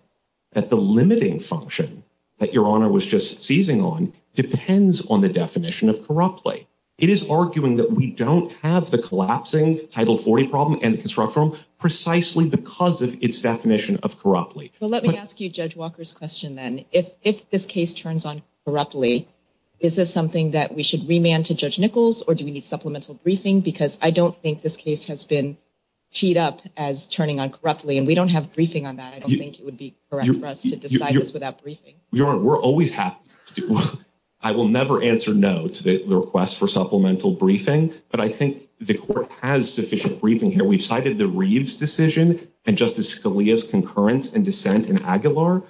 That the limiting function That your honor was just seizing on Depends on the definition Of corruptly It is arguing that we don't have the collapsing Title 40 problem and construct form Precisely because of its definition Of corruptly So let me ask you Judge Walker's question then If this case turns on corruptly Is this something that we should remand to Judge Nichols Or do we need supplemental briefing Because I don't think this case has been Teed up as turning on corruptly And we don't have briefing on that I don't think it would be correct for us to decide this without briefing Your honor, we're always happy I will never answer no To the request for supplemental briefing But I think the court has Not provided sufficient briefing here We've cited the Reeves decision And Justice Scalia's concurrence and dissent in Aguilar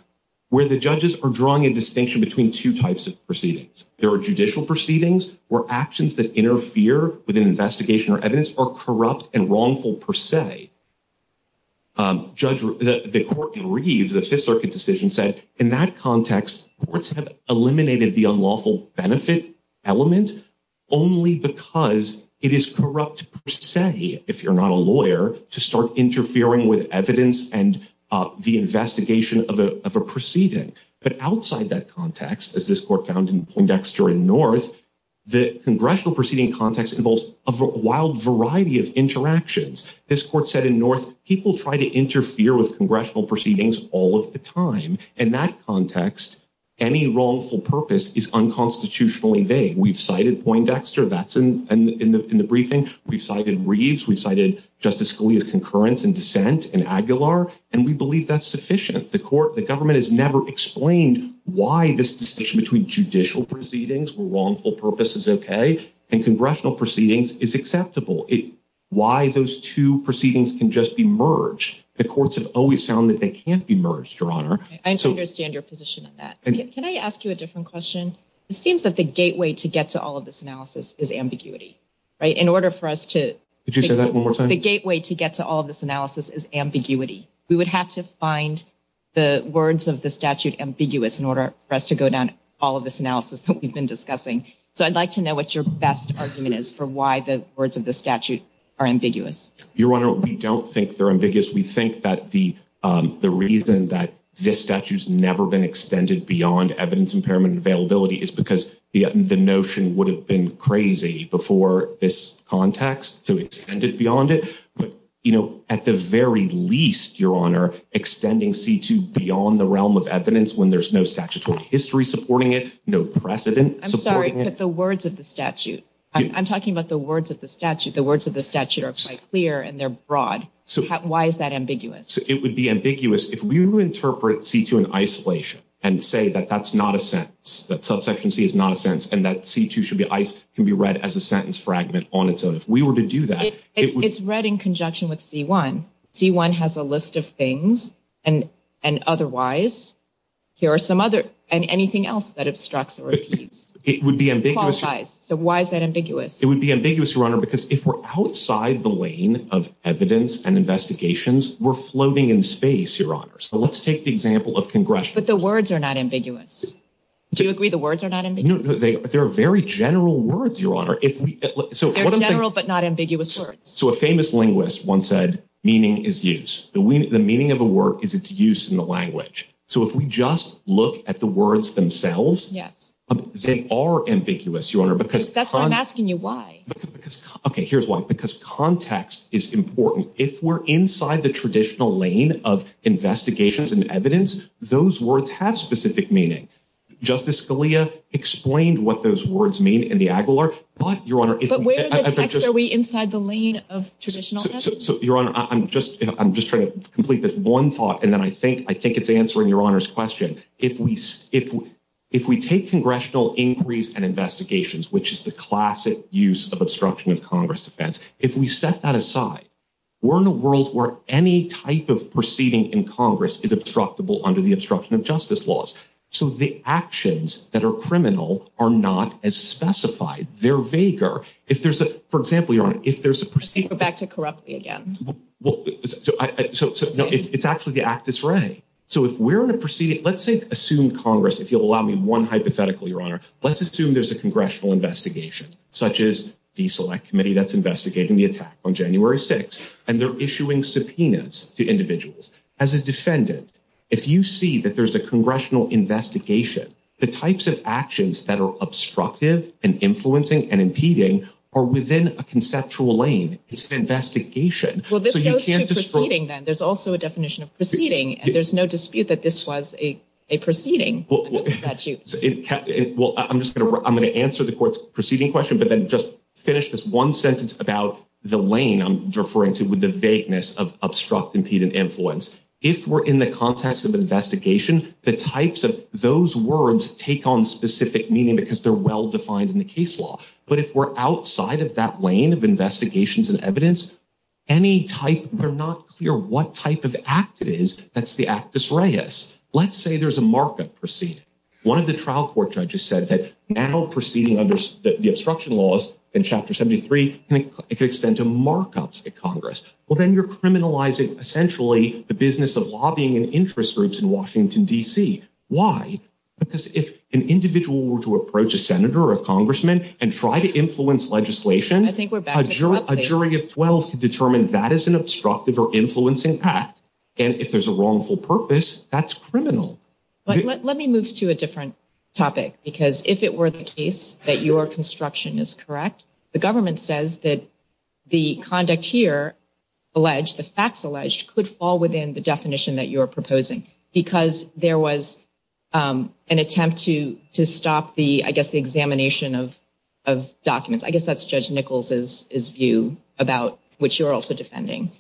Where the judges are drawing a distinction Between two types of proceedings There are judicial proceedings Where actions that interfere With an investigation or evidence Are corrupt and wrongful per se The court in Reeves The Fifth Circuit decision said In that context Courts have eliminated the unlawful benefit Element Only because It is corrupt per se If you're not a lawyer To start interfering with evidence And the investigation of a proceeding But outside that context As this court found in Dexter and North The congressional proceeding Context involves a wild variety Of interactions This court said in North People try to interfere with congressional proceedings All of the time In that context Any wrongful purpose Is unconstitutionally vague We've cited point Dexter That's in the briefing We've cited Reeves We've cited Justice Scalia's concurrence and dissent in Aguilar And we believe that's sufficient The government has never explained Why this distinction between judicial proceedings Where wrongful purpose is okay And congressional proceedings Is acceptable Why those two proceedings can just be merged The courts have always found That they can't be merged I understand your position on that Can I ask you a different question? It seems that the gateway to get to all of this analysis Is ambiguity In order for us to The gateway to get to all of this analysis Is ambiguity We would have to find the words of the statute ambiguous In order for us to go down All of this analysis that we've been discussing So I'd like to know what your best argument is For why the words of the statute Are ambiguous Your Honor, we don't think they're ambiguous We think that the Reason that this statute's never been Extended beyond evidence impairment Availability is because the Notion would have been crazy Before this context So it's extended beyond it At the very least, Your Honor Extending C-2 beyond The realm of evidence when there's no statutory History supporting it, no precedent I'm sorry, but the words of the statute I'm talking about the words of the statute The words of the statute are quite clear And they're broad. Why is that ambiguous? It would be ambiguous If we were to interpret C-2 in isolation And say that that's not a sentence That subsection C is not a sentence And that C-2 can be read as a sentence fragment On its own. If we were to do that It's read in conjunction with C-1 C-1 has a list of things And otherwise Here are some other And anything else that it struts or repeats It would be ambiguous So why is that ambiguous? It would be ambiguous, Your Honor, because if we're outside The lane of evidence And investigations, we're floating in space Your Honor. So let's take the example of Congressional. But the words are not ambiguous Do you agree the words are not ambiguous? They're very general words Your Honor. They're general but Not ambiguous words. So a famous linguist Once said, meaning is use The meaning of a word is its use In the language. So if we just Look at the words themselves They are ambiguous Your Honor. I'm asking you why Okay, here's why Because context is important If we're inside the traditional lane Of investigations and evidence Those words have specific meaning Justice Scalia Explained what those words mean in the Aguilar But, Your Honor Are we inside the lane of traditional evidence? Your Honor, I'm just Trying to complete this one thought And then I think it's answering Your Honor's question If we If we take Congressional inquiries and Investigations, which is the classic Use of obstruction of Congress defense If we set that aside We're in a world where any type of Proceeding in Congress is obstructable Under the obstruction of justice laws So the actions that are criminal Are not as specified They're vaguer. If there's a For example, Your Honor, if there's a proceeding Go back to corruptly again So it's actually the act It's right. So if we're in a proceeding Let's assume Congress, if you'll allow me One hypothetical, Your Honor. Let's assume There's a Congressional investigation Such as the Select Committee that's investigating The attack on January 6th And they're issuing subpoenas to individuals As a defendant If you see that there's a Congressional investigation The types of actions That are obstructive and Influencing and impeding are within A conceptual lane It's an investigation Well, this goes to proceeding then There's also a definition of proceeding And there's no dispute that this was a Proceeding Well, I'm just going to answer The court's proceeding question, but then just Finish this one sentence about The lane I'm referring to with the vagueness Of obstruct, impede, and influence If we're in the context of investigation The types of those words Take on specific meaning Because they're well defined in the case law But if we're outside of that lane Of investigations and evidence Any type, they're not clear What type of act it is That's the actus reus Let's say there's a markup proceeding One of the trial court judges said that Now proceeding under the obstruction laws In Chapter 73 It could extend to markups at Congress Well, then you're criminalizing, essentially The business of lobbying and interest groups In Washington, D.C. Why? Because if an individual Were to approach a senator or a congressman And try to influence legislation A jury of 12 Could determine that is an obstructive or influencing Act, and if there's a Wrongful purpose, that's criminal Let me move to a different Topic, because if it were the case That your construction is correct The government says that The conduct here Alleged, the facts alleged, could fall Within the definition that you're proposing Because there was An attempt to stop I guess the examination of Documents. I guess that's Judge Nichols' View about which you're Also defending.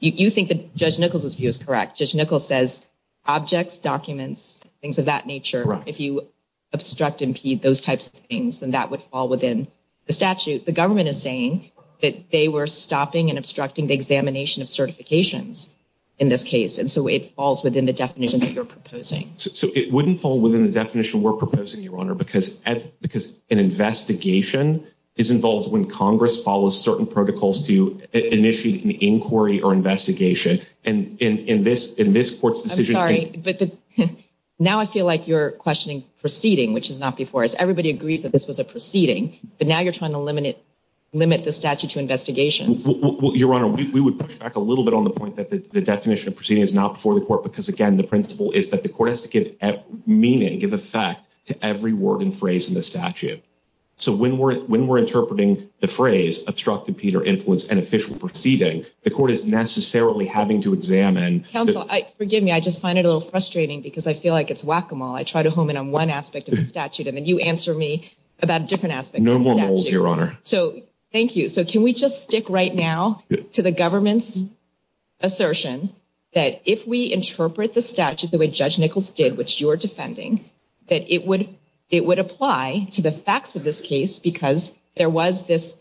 You think That Judge Nichols' view is correct. Judge Nichols Says objects, documents Things of that nature, if you Obstruct, impede those types of things Then that would fall within the statute The government is saying that they Were stopping and obstructing the examination Of certifications in this case And so it falls within the definition That you're proposing. So it wouldn't fall Within the definition we're proposing, Your Honor Because an investigation Is involved when Congress Follows certain protocols to initiate An inquiry or investigation And in this Court's decision... I'm sorry Now I feel like you're questioning Proceeding, which is not before us. Everybody agrees That this was a proceeding, but now you're trying to Limit the statute to investigation Your Honor, we would Touch back a little bit on the point that the definition Of proceeding is not before the court, because again The principle is that the court has to give Meaning, give effect to every Word and phrase in the statute So when we're interpreting the phrase Obstruct, impede, or influence an official Proceeding, the court is necessarily Having to examine... Counsel, Forgive me, I just find it a little frustrating because I feel like it's whack-a-mole. I try to hone in on one Aspect of the statute and then you answer me About different aspects of the statute. No more rules, Your Honor So, thank you. So can we Just stick right now to the government's Assertion That if we interpret The statute the way Judge Nichols did, which you're Defending, that it would Apply to the facts of this Case because there was this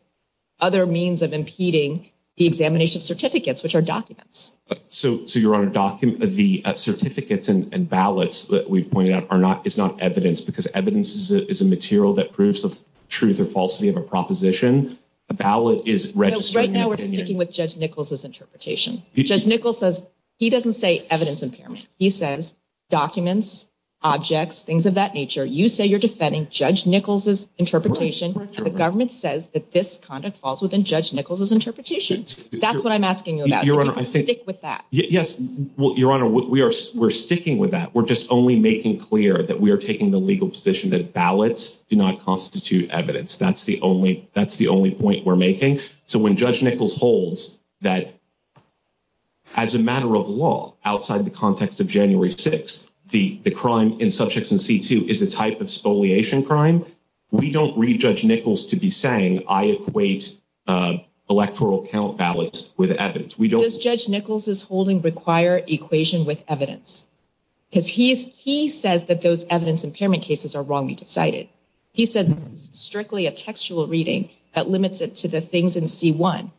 Other means of impeding The examination certificates, which are Documents. So Your Honor, The certificates and Ballots that we've pointed out is not Evidence, because evidence is a material That proves the truth or falsity Of a proposition. A ballot is Registered... So right now we're sticking with Judge Nichols' Interpretation. Judge Nichols says He doesn't say evidence impairment. He Says documents, objects, Things of that nature. You say you're Defending Judge Nichols' interpretation And the government says that this Conduct falls within Judge Nichols' interpretation. That's what I'm asking you about. Stick with that. Yes. Your Honor, we are sticking with that. We're just only making clear that we are Taking the legal position that ballots Do not constitute evidence. That's the only Point we're making. So when Judge Nichols holds That as a matter Of law, outside the context of January 6th, the crime In Subjects in C2 is a type of Spoliation crime, we don't Read Judge Nichols to be saying I equate electoral Count ballots with evidence. Judge Nichols is holding required Equations with evidence. Because he says that those Evidence impairment cases are wrongly decided. He says strictly a textual Reading that limits it to the things In C1,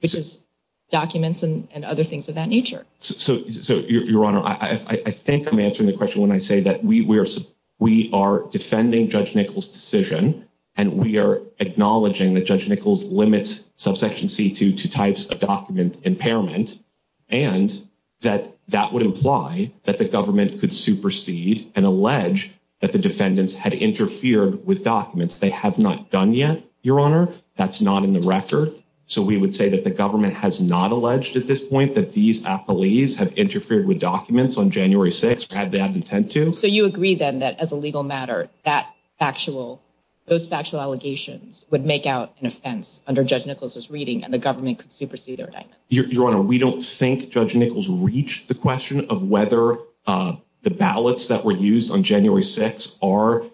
which is Documents and other things of that nature. So, Your Honor, I think I'm answering the question when I say that We are Defending Judge Nichols' decision And we are acknowledging that Judge Nichols limits Subsection C2 To types of document impairment And that That would imply that the government Could supersede and allege That the defendants had interfered With documents. They have not done yet, Your Honor. That's not in the record. So we would say that the government has Not alleged at this point that these Affilies have interfered with documents On January 6th, had they had intent to. So you agree then that as a legal matter That factual, those factual Allegations would make out an Offense under Judge Nichols' reading and the government Could supersede their act. Your Honor, We don't think Judge Nichols reached The question of whether The ballots that were used on January 6th are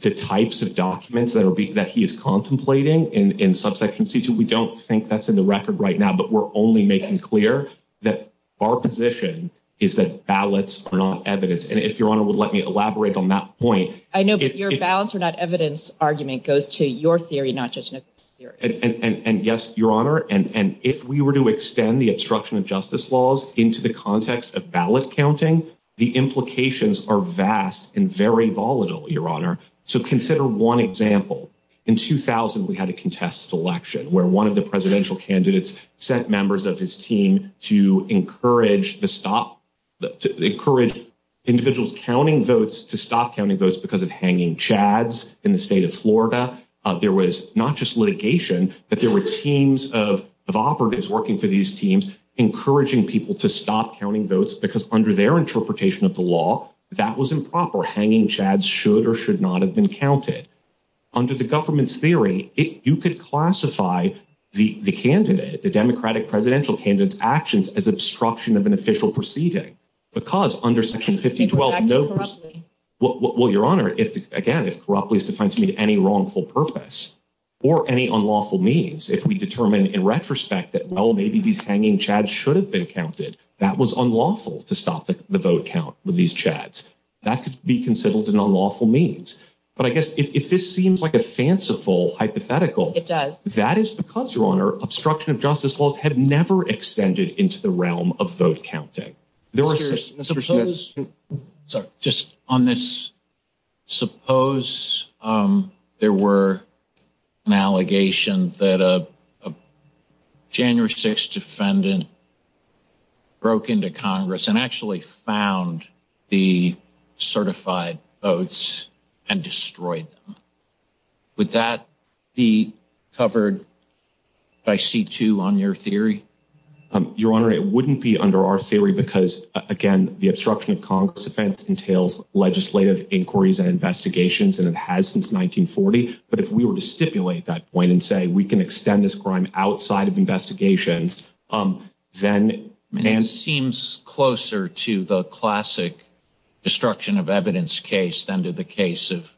The types of documents that he Is contemplating in Subsection C2. We don't think that's in the record right Now, but we're only making clear That our position is That ballots are not evidence. And if Your Honor would let me elaborate on that point I know, but your ballots are not evidence Argument goes to your theory, not Judge Nichols' theory. And yes, Your Honor, and if we were to extend The obstruction of justice laws into the Context of ballot counting, The implications are vast And very volatile, Your Honor. So consider one example. In 2000, we had a contest election Where one of the presidential candidates Sent members of his team to Encourage the stop Encourage individuals Counting votes to stop counting votes Because of hanging chads in the state Of Florida. There was not Just litigation, but there were teams Of operatives working for these teams Encouraging people to stop But in your interpretation of the law That was improper. Hanging chads should Or should not have been counted. Under the government's theory, You could classify the Candidate, the Democratic presidential Candidate's actions as obstruction of an Official proceeding. Because Under Section 5012, no proceeding Well, Your Honor, again, It roughly depends on any wrongful purpose Or any unlawful means If we determine in retrospect that Well, maybe these hanging chads should have Been counted. That was unlawful To stop the vote count with these chads. That could be considered an unlawful Means. But I guess if this Seems like a fanciful hypothetical It does. That is because, Your Honor, Obstruction of justice laws had never Extended into the realm of vote Counting. Sorry, just on this Suppose There were An allegation that A January 6 defendant Broke into Congress and actually Found the Certified votes And destroyed them. Would that be Covered by C2 on your theory? Your Honor, it wouldn't be under our theory Because, again, the obstruction of Congress event entails legislative Inquiries and investigations that it has Since 1940. But if we were to Stipulate that point and say we can extend This crime outside of investigations Then It seems closer to The classic destruction Of evidence case than to the case Of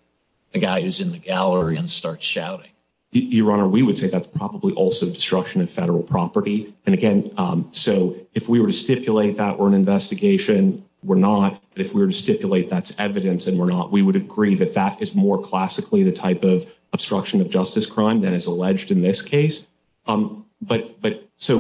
a guy who's in the gallery And starts shouting. Your Honor, We would say that's probably also obstruction Of federal property. And, again, So if we were to stipulate that We're an investigation, we're not. If we were to stipulate that's evidence And we're not, we would agree that that is more Classically the type of obstruction of This case. But So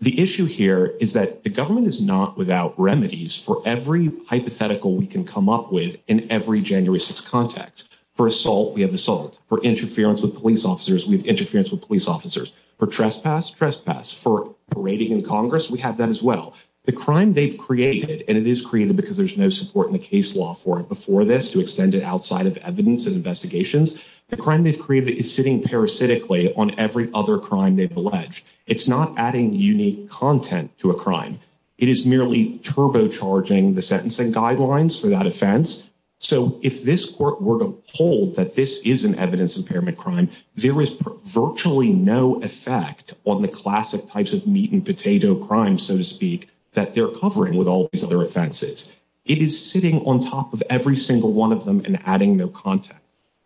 The issue here is that The government is not without remedies For every hypothetical we can Come up with in every January 6th Contact. For assault, we have assault. For interference with police officers, we have Interference with police officers. For trespass, Trespass. For parading in Congress, we have them as well. The crime They've created, and it is created because There's no support in the case law for it before This to extend it outside of evidence and It is sitting parasitically on every Other crime they've alleged. It's not Adding unique content to a crime. It is merely turbo Charging the sentencing guidelines For that offense. So if this Court were to hold that this is An evidence impairment crime, there is Virtually no effect On the classic types of meat and potato Crimes, so to speak, that They're covering with all these other offenses. It is sitting on top of every Single one of them and adding no content.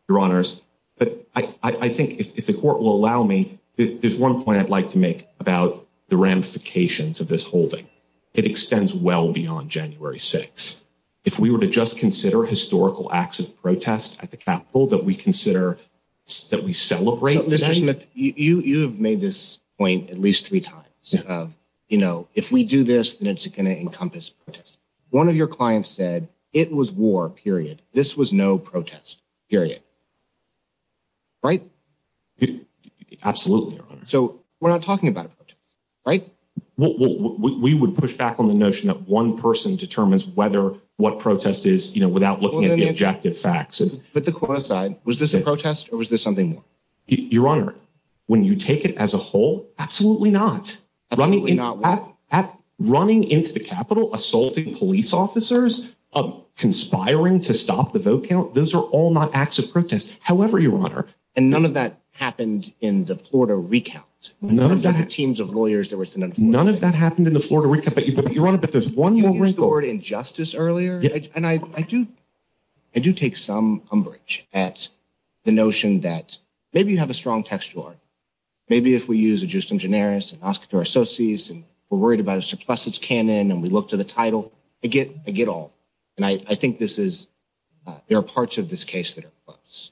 Your honors, but I Think if the court will allow me, There's one point I'd like to make about The ramifications of this holding. It extends well beyond January 6th. If we were to Just consider historical acts of Protest at the Capitol that we consider That we celebrate You have made this Point at least three times. You know, if we do this, then it's Going to encompass protest. One of your Clients said, it was war, period. This was no protest, period. Right? Absolutely, your honor. So we're not talking about a protest, right? We would Push back on the notion that one person Determines what protest is Without looking at the objective facts. Put the quote aside. Was this a protest Or was this something more? Your honor, When you take it as a whole, Absolutely not. Running into the Capitol Assaulting police officers, Conspiring to stop The vote count, those are all not acts of protest. However, your honor, None of that happened in the Florida recount. None of the teams of lawyers None of that happened in the Florida recount. Your honor, but there's one more record Injustice earlier. I do take some Umbrage at the notion That maybe you have a strong textual Art. Maybe if we use A just in generis, an Oscar for our associates, We're worried about a surplusage canon, And we look to the title, I get all. And I think this is There are parts of this case that are close.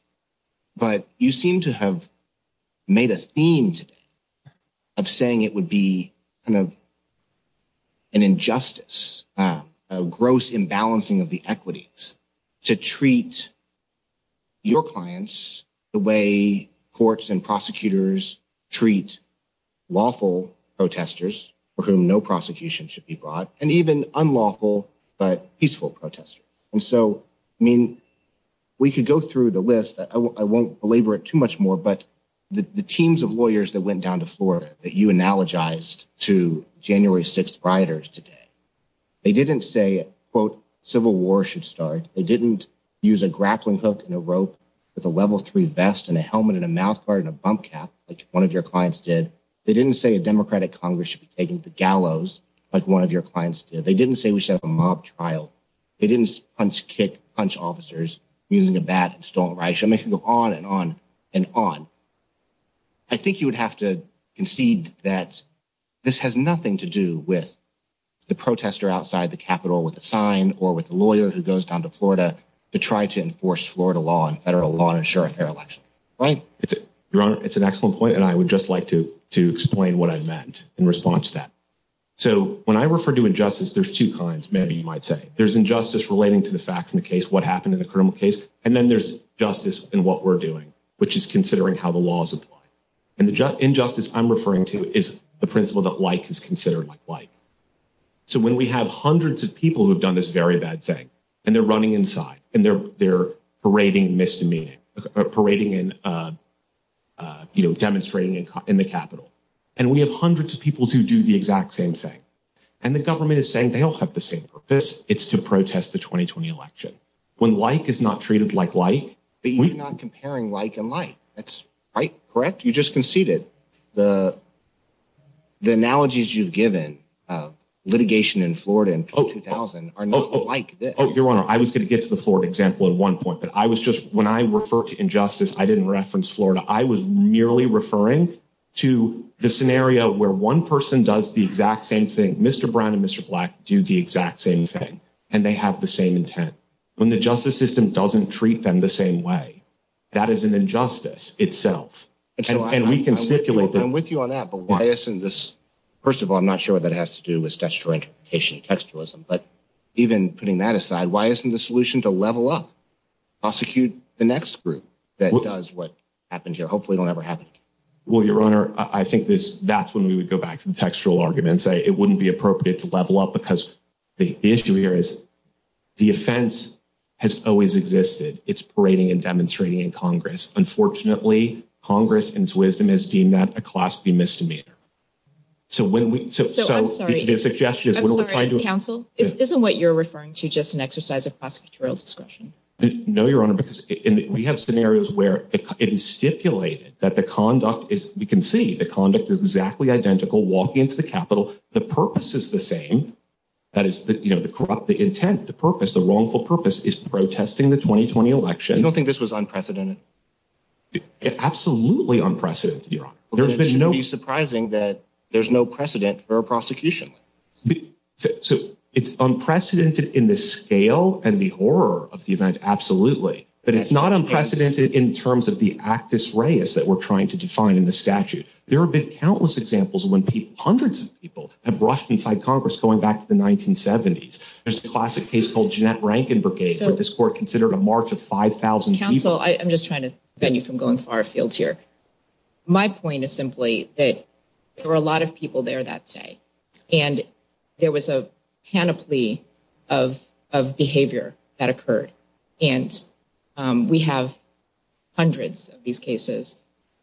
But you seem to have Made a theme Of saying it would be Kind of An injustice, A gross imbalancing of the equities To treat Your clients The way courts and prosecutors Treat Lawful protesters For whom no prosecution should be brought And even unlawful But peaceful protesters. And so, I mean, we could go Through the list. I won't belabor it Too much more, but the teams Of lawyers that went down to Florida That you analogized to January 6th rioters today They didn't say, quote, Civil war should start. They didn't Use a grappling hook and a rope With a level 3 vest and a helmet and a mouth guard And a bump cap, like one of your clients did. They didn't say a democratic congress Should be taken to gallows, like one of your clients did. They didn't say we should have a mob trial. They didn't punch, kick, Punch officers using a bat And stomp. I mean, I could go on and on And on. I think you would have to concede That this has nothing to do With the protester outside The Capitol with a sign or with A lawyer who goes down to Florida To try to enforce Florida law and federal law And ensure a fair election. Right. It's an excellent point, and I would just like to Explain what I meant in response to that. So when I refer to injustice, There's two kinds, maybe, you might say. There's injustice relating to the facts of the case, What happened in the criminal case, and then there's Justice in what we're doing, which is Considering how the laws apply. And injustice I'm referring to is The principle that like is considered like. So when we have hundreds Of people who have done this very bad thing And they're running inside, and they're Parading misdemeanor. Parading and Demonstrating in the Capitol. And we have hundreds of people who do The exact same thing. And the government Is saying they all have the same purpose. It's to protest the 2020 election. When like is not treated like like, But you're not comparing like and like. That's right, correct? You just conceded. The Analogies you've given Of litigation in Florida in 2000 Are not like this. I was going to get to the Florida example At one point, but I was just, when I refer To injustice, I didn't reference Florida. I was merely referring To the scenario where one person Does the exact same thing. Mr. Brown and Mr. Black do the exact same thing. And they have the same intent. When the justice system doesn't treat them The same way, that is an injustice Itself. I'm with you on that, but why Isn't this, first of all, I'm not sure What that has to do with textual interpretation, Textualism, but even putting That aside, why isn't the solution to level up? Prosecute the next Group that does what happens Here. Hopefully it won't ever happen again. Well, your honor, I think that's when we would go back To the textual argument and say it wouldn't be appropriate To level up because the issue Here is the offense Has always existed. It's parading and demonstrating in Congress. Unfortunately, Congress In its wisdom has deemed that a class B misdemeanor. So when we I'm sorry. Isn't what you're referring to Just an exercise of prosecutorial discretion? No, your honor, because We have scenarios where it is stipulated That the conduct is You can see the conduct is exactly identical Walking to the Capitol. The purpose Is the same. That is The intent, the purpose, the wrongful Purpose is protesting the 2020 Election. I don't think this was unprecedented. Absolutely Unprecedented, your honor. It would be surprising that There's no precedent for a prosecution. It's unprecedented In the scale and The horror of the event. Absolutely. But it's not unprecedented in terms Of the actus reus that we're trying To define in the statute. There have been Countless examples when hundreds of people Have rushed inside Congress going back to The 1970s. There's a classic Case called Jeanette Rankin Brigade that this court Considered a march of 5,000 people. Counsel, I'm just trying to prevent you from going Into the far field here. My point is simply that There were a lot of people there that day. And there was a Panoply of Behavior that occurred. And we have Hundreds of these cases.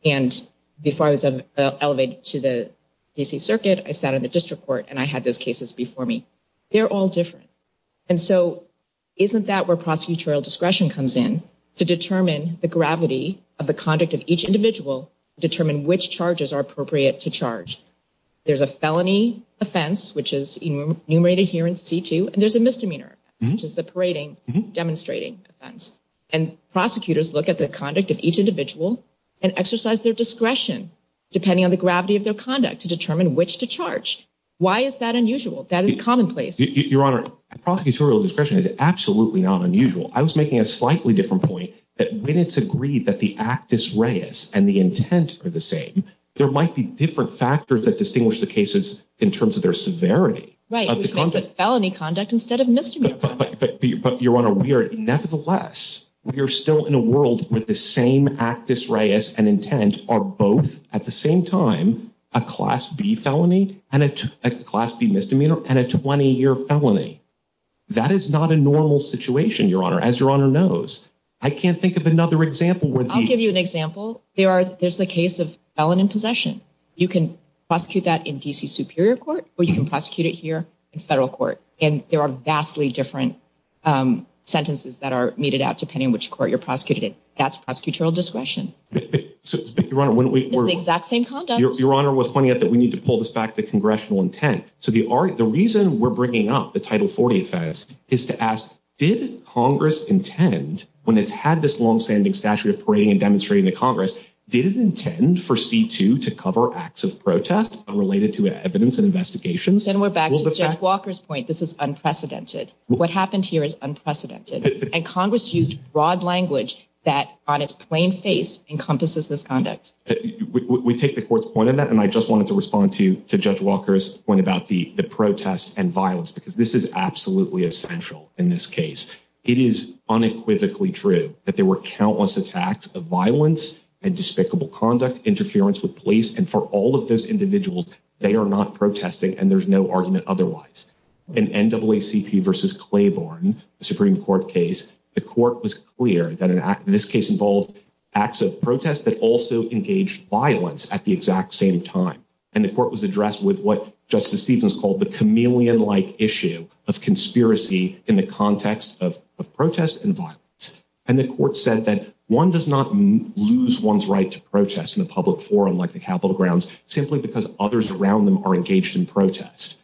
And before I was Elevated to the D.C. Circuit, I sat in the district court and I had those Cases before me. They're all different. And so isn't That where prosecutorial discretion comes in To determine the gravity Of the conduct of each individual To determine which charges are appropriate to Charge. There's a felony Offense, which is enumerated Here in C2, and there's a misdemeanor, Which is the parading, demonstrating Offense. And prosecutors Look at the conduct of each individual And exercise their discretion Depending on the gravity of their conduct to determine Which to charge. Why is that unusual? That is commonplace. Your Honor, Prosecutorial discretion is absolutely Not unusual. I was making a slightly different Point that when it's agreed that the Actus reus and the intent Are the same, there might be different Factors that distinguish the cases in terms Of their severity. Right. Felony conduct instead of misdemeanor. But, Your Honor, we are Nevertheless, we are still in a world With the same actus reus And intent are both, at the same Time, a Class B felony And a Class B misdemeanor And a 20-year felony. That is not a normal Situation, Your Honor, as Your Honor knows. I can't think of another example where I'll give you an example. There's A case of felon in possession. You can prosecute that in D.C. Superior Court, or you can prosecute it here In Federal Court. And there are vastly Different sentences That are meted out depending on which court you're prosecuting It. That's prosecutorial discretion. Your Honor, when we were The exact same conduct. Your Honor, what's funny is that we need To pull this back to congressional intent. So the reason we're bringing up The Title 40 offense is to ask Did Congress intend When it's had this long-standing statute Of parading and demonstrating to Congress, did it Intend for C2 to cover Acts of protest unrelated to Evidence and investigations? Then we're back to Judge Walker's point. This is unprecedented. What happened here is unprecedented. And Congress used broad language That, on its plain face, Encompasses this conduct. We take the Court's point on that, and I just wanted to Take Judge Walker's point about the Protest and violence, because this is Absolutely essential in this case. It is unequivocally true That there were countless attacks of Violence and despicable conduct, Interference with police, and for all of those Individuals, they are not protesting And there's no argument otherwise. In NAACP v. Claiborne, the Supreme Court case, The Court was clear that This case involved acts of protest That also engaged violence at The exact same time. And the Court Was addressed with what Justice Stevens called The chameleon-like issue of Conspiracy in the context Of protest and violence. And the Court said that one does not Lose one's right to protest In a public forum like the Capitol grounds Simply because others around them are engaged In protest.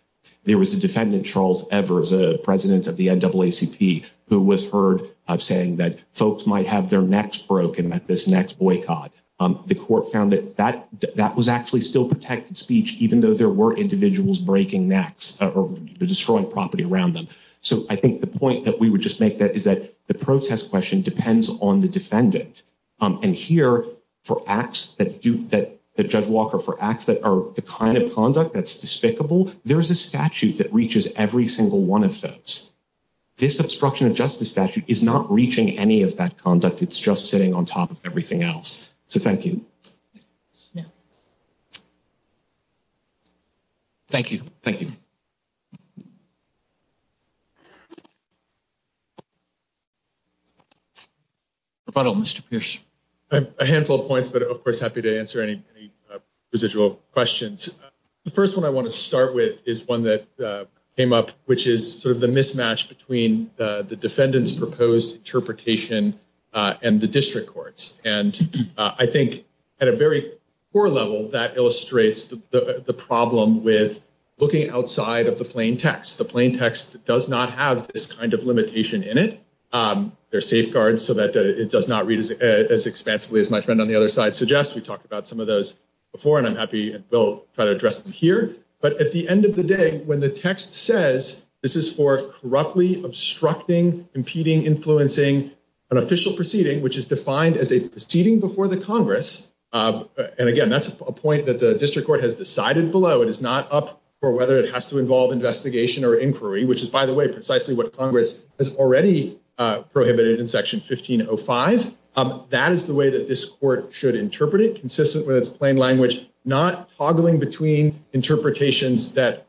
There was a defendant, Charles Evers, President of the NAACP, who was heard Saying that folks might have their Necks broken at this next boycott. The Court found that That was actually still protected speech, Even though there were individuals breaking necks Or destroying property around them. So I think the point that we would Just make is that the protest question Depends on the defendant. And here, for acts that Judge Walker, for acts that Are the kind of conduct that's despicable, There's a statute that reaches Every single one of those. This obstruction of justice statute is Not reaching any of that conduct. It's just sitting on top of everything else. So thank you. Yeah. Thank you. Thank you. Rebuttal, Mr. Pierce? A handful of points, but of course Happy to answer any Residual questions. The first one I want to start with is one that Came up, which is sort of the mismatch Between the defendant's Proposed interpretation And the district court's. And I think at a very Core level, that illustrates The problem with Looking outside of the plain text. The plain text does not have this kind Of limitation in it. There's safeguards so that it does not Read as expansively as my friend on the other side Suggests. We talked about some of those Before, and I'm happy to address them here. But at the end of the day, when the Text says this is for Abruptly obstructing, Impeding, influencing an official Proceeding, which is defined as a Proceeding before the Congress And again, that's a point that the district Court has decided below. It is not up For whether it has to involve investigation Or inquiry, which is, by the way, precisely what Congress has already Prohibited in section 1505. That is the way that this court Should interpret it, consistent with its plain language, Not toggling between Interpretations that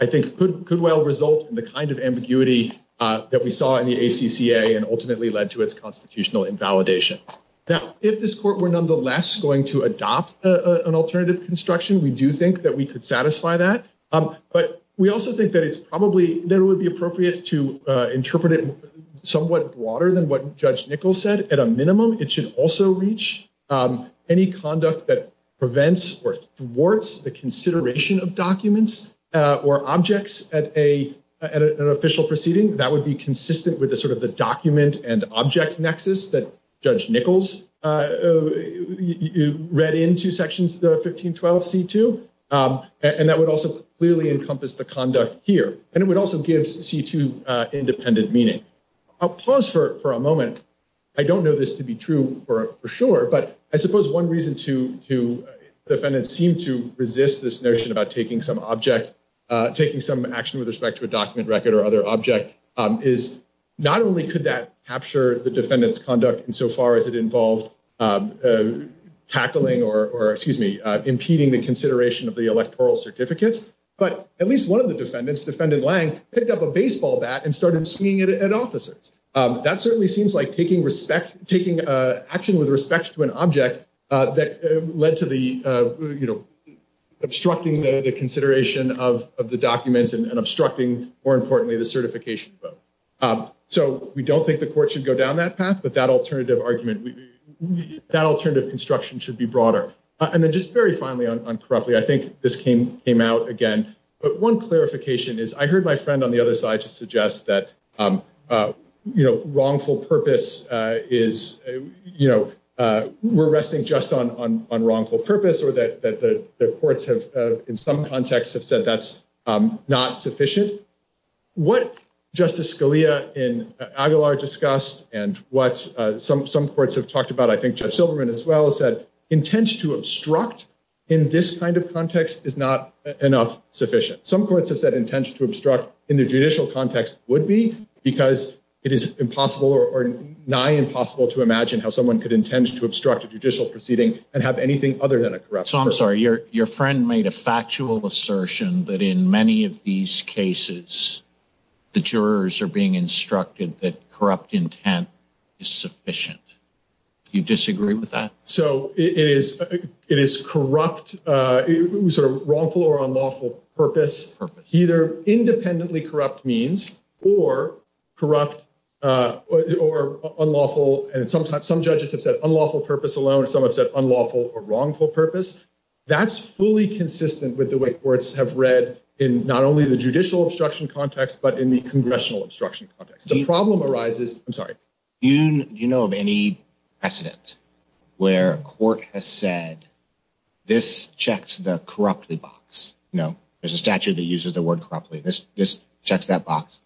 I think could well result In the kind of ambiguity That we saw in the ACCA and ultimately Led to its constitutional invalidation. Now, if this court were nonetheless Going to adopt an alternative Construction, we do think that we could Satisfy that. But we also Think that it's probably, that it would be appropriate To interpret it Somewhat broader than what Judge Nichols Said. At a minimum, it should also reach Any conduct that Prevents or thwarts The consideration of documents Or objects at an Official proceeding. That would be Consistent with sort of the document And object nexus that Judge Nichols Read into section 1512C2. And that would also clearly encompass the conduct Here. And it would also give C2 independent meaning. I'll pause for a moment. I don't know this to be true for sure, But I suppose one reason to Defendants seem to resist This notion about taking some object Taking some action with respect to a document Record or other object is Not only could that capture The defendant's conduct insofar as it Involved Tackling or, excuse me, Impeding the consideration of the electoral Certificates, but at least one of the defendants Defended Lange picked up a baseball bat And started swinging it at officers. That certainly seems like taking respect Taking action with respect to An object that led To the, you know, Obstructing the consideration of The document and obstructing More importantly the certification. So we don't think the court should go Down that path, but that alternative argument That alternative construction Should be broader. And then just very Finally, I think this came Out again, but one clarification Is I heard my friend on the other side Suggest that, you know, Wrongful purpose Is, you know, We're resting just on Wrongful purpose or that the Courts have, in some context, have Said that's not sufficient. What Justice Scalia and Aguilar discussed And what some Courts have talked about, I think Judge Silverman as well Has said, intention to obstruct In this kind of context is Not enough sufficient. Some courts Have said intention to obstruct in the judicial Context would be because It is impossible or Nigh impossible to imagine how someone could Intend to obstruct a judicial proceeding And have anything other than a corrupt purpose. Your friend made a factual assertion That in many of these Cases the jurors Are being instructed that corrupt Intent is sufficient. Do you disagree with that? So it is Corrupt, it is Wrongful or unlawful purpose Either independently corrupt Means or Corrupt or Unlawful and sometimes some judges Have said unlawful purpose alone and some have said Unlawful or wrongful purpose. That's fully consistent with the way Courts have read in not only the Judicial obstruction context but in the Congressional obstruction context. The problem Arises, I'm sorry. Do you Know of any precedent Where a court has said This checks the Corruptly box. No, there's a statute That uses the word corruptly. This checks That box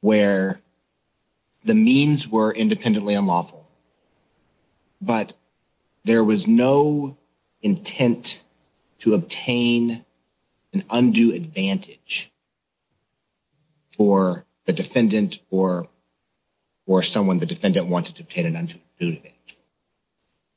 where The means were Independently unlawful But there was no Intent To obtain An undue advantage For The defendant or Someone the defendant wanted to obtain An undue advantage.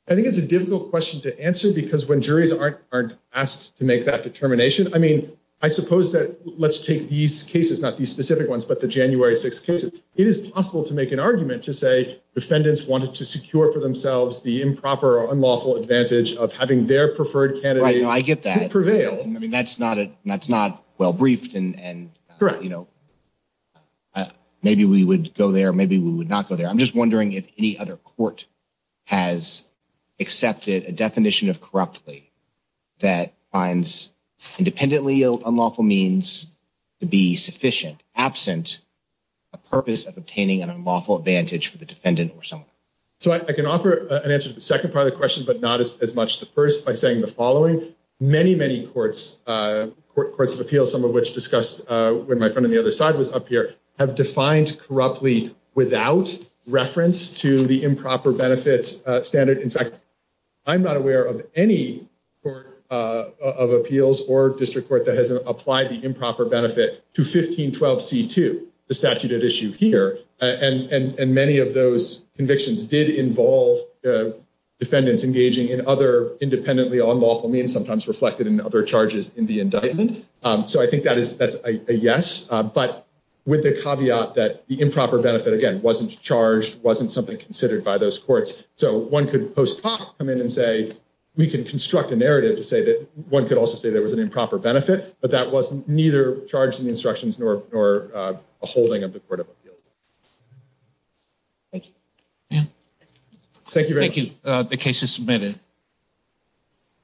I think it's a difficult question to answer because When juries are asked to make That determination, I mean, I suppose That let's take these cases, not these Specific ones, but the January 6th cases. It is possible to make an argument to say Defendants wanted to secure for themselves The improper or unlawful advantage Of having their preferred candidate Prevail. I get that. That's not well briefed and Correct. Maybe we would go there, maybe We would not go there. I'm just wondering if any other Court has Accepted a definition of corruptly That finds Independently unlawful means To be sufficient. Absent a purpose of obtaining An unlawful advantage for the defendant or Someone. So I can offer An answer to the second part of the question, but not as much As the first by saying the following. Many, many courts Of appeals, some of which discussed When my friend on the other side was up here, have Defined corruptly without Reference to the improper Benefit standard. In fact, I'm not aware of any Court of appeals Or district court that has applied the improper Benefit to 1512c2, The statute at issue here. And many of those Convictions did involve Defendants engaging in other Independently unlawful means, sometimes reflected In other charges in the indictment. So I think that is a yes. But with the caveat That the improper benefit, again, wasn't Charged, wasn't something considered by those Who come in and say, we can Construct a narrative to say that one could Also say there was an improper benefit, but that Wasn't neither charged in the instructions Nor a holding of the court of Appeals. Thank you. Thank you. Thank you. The case is submitted.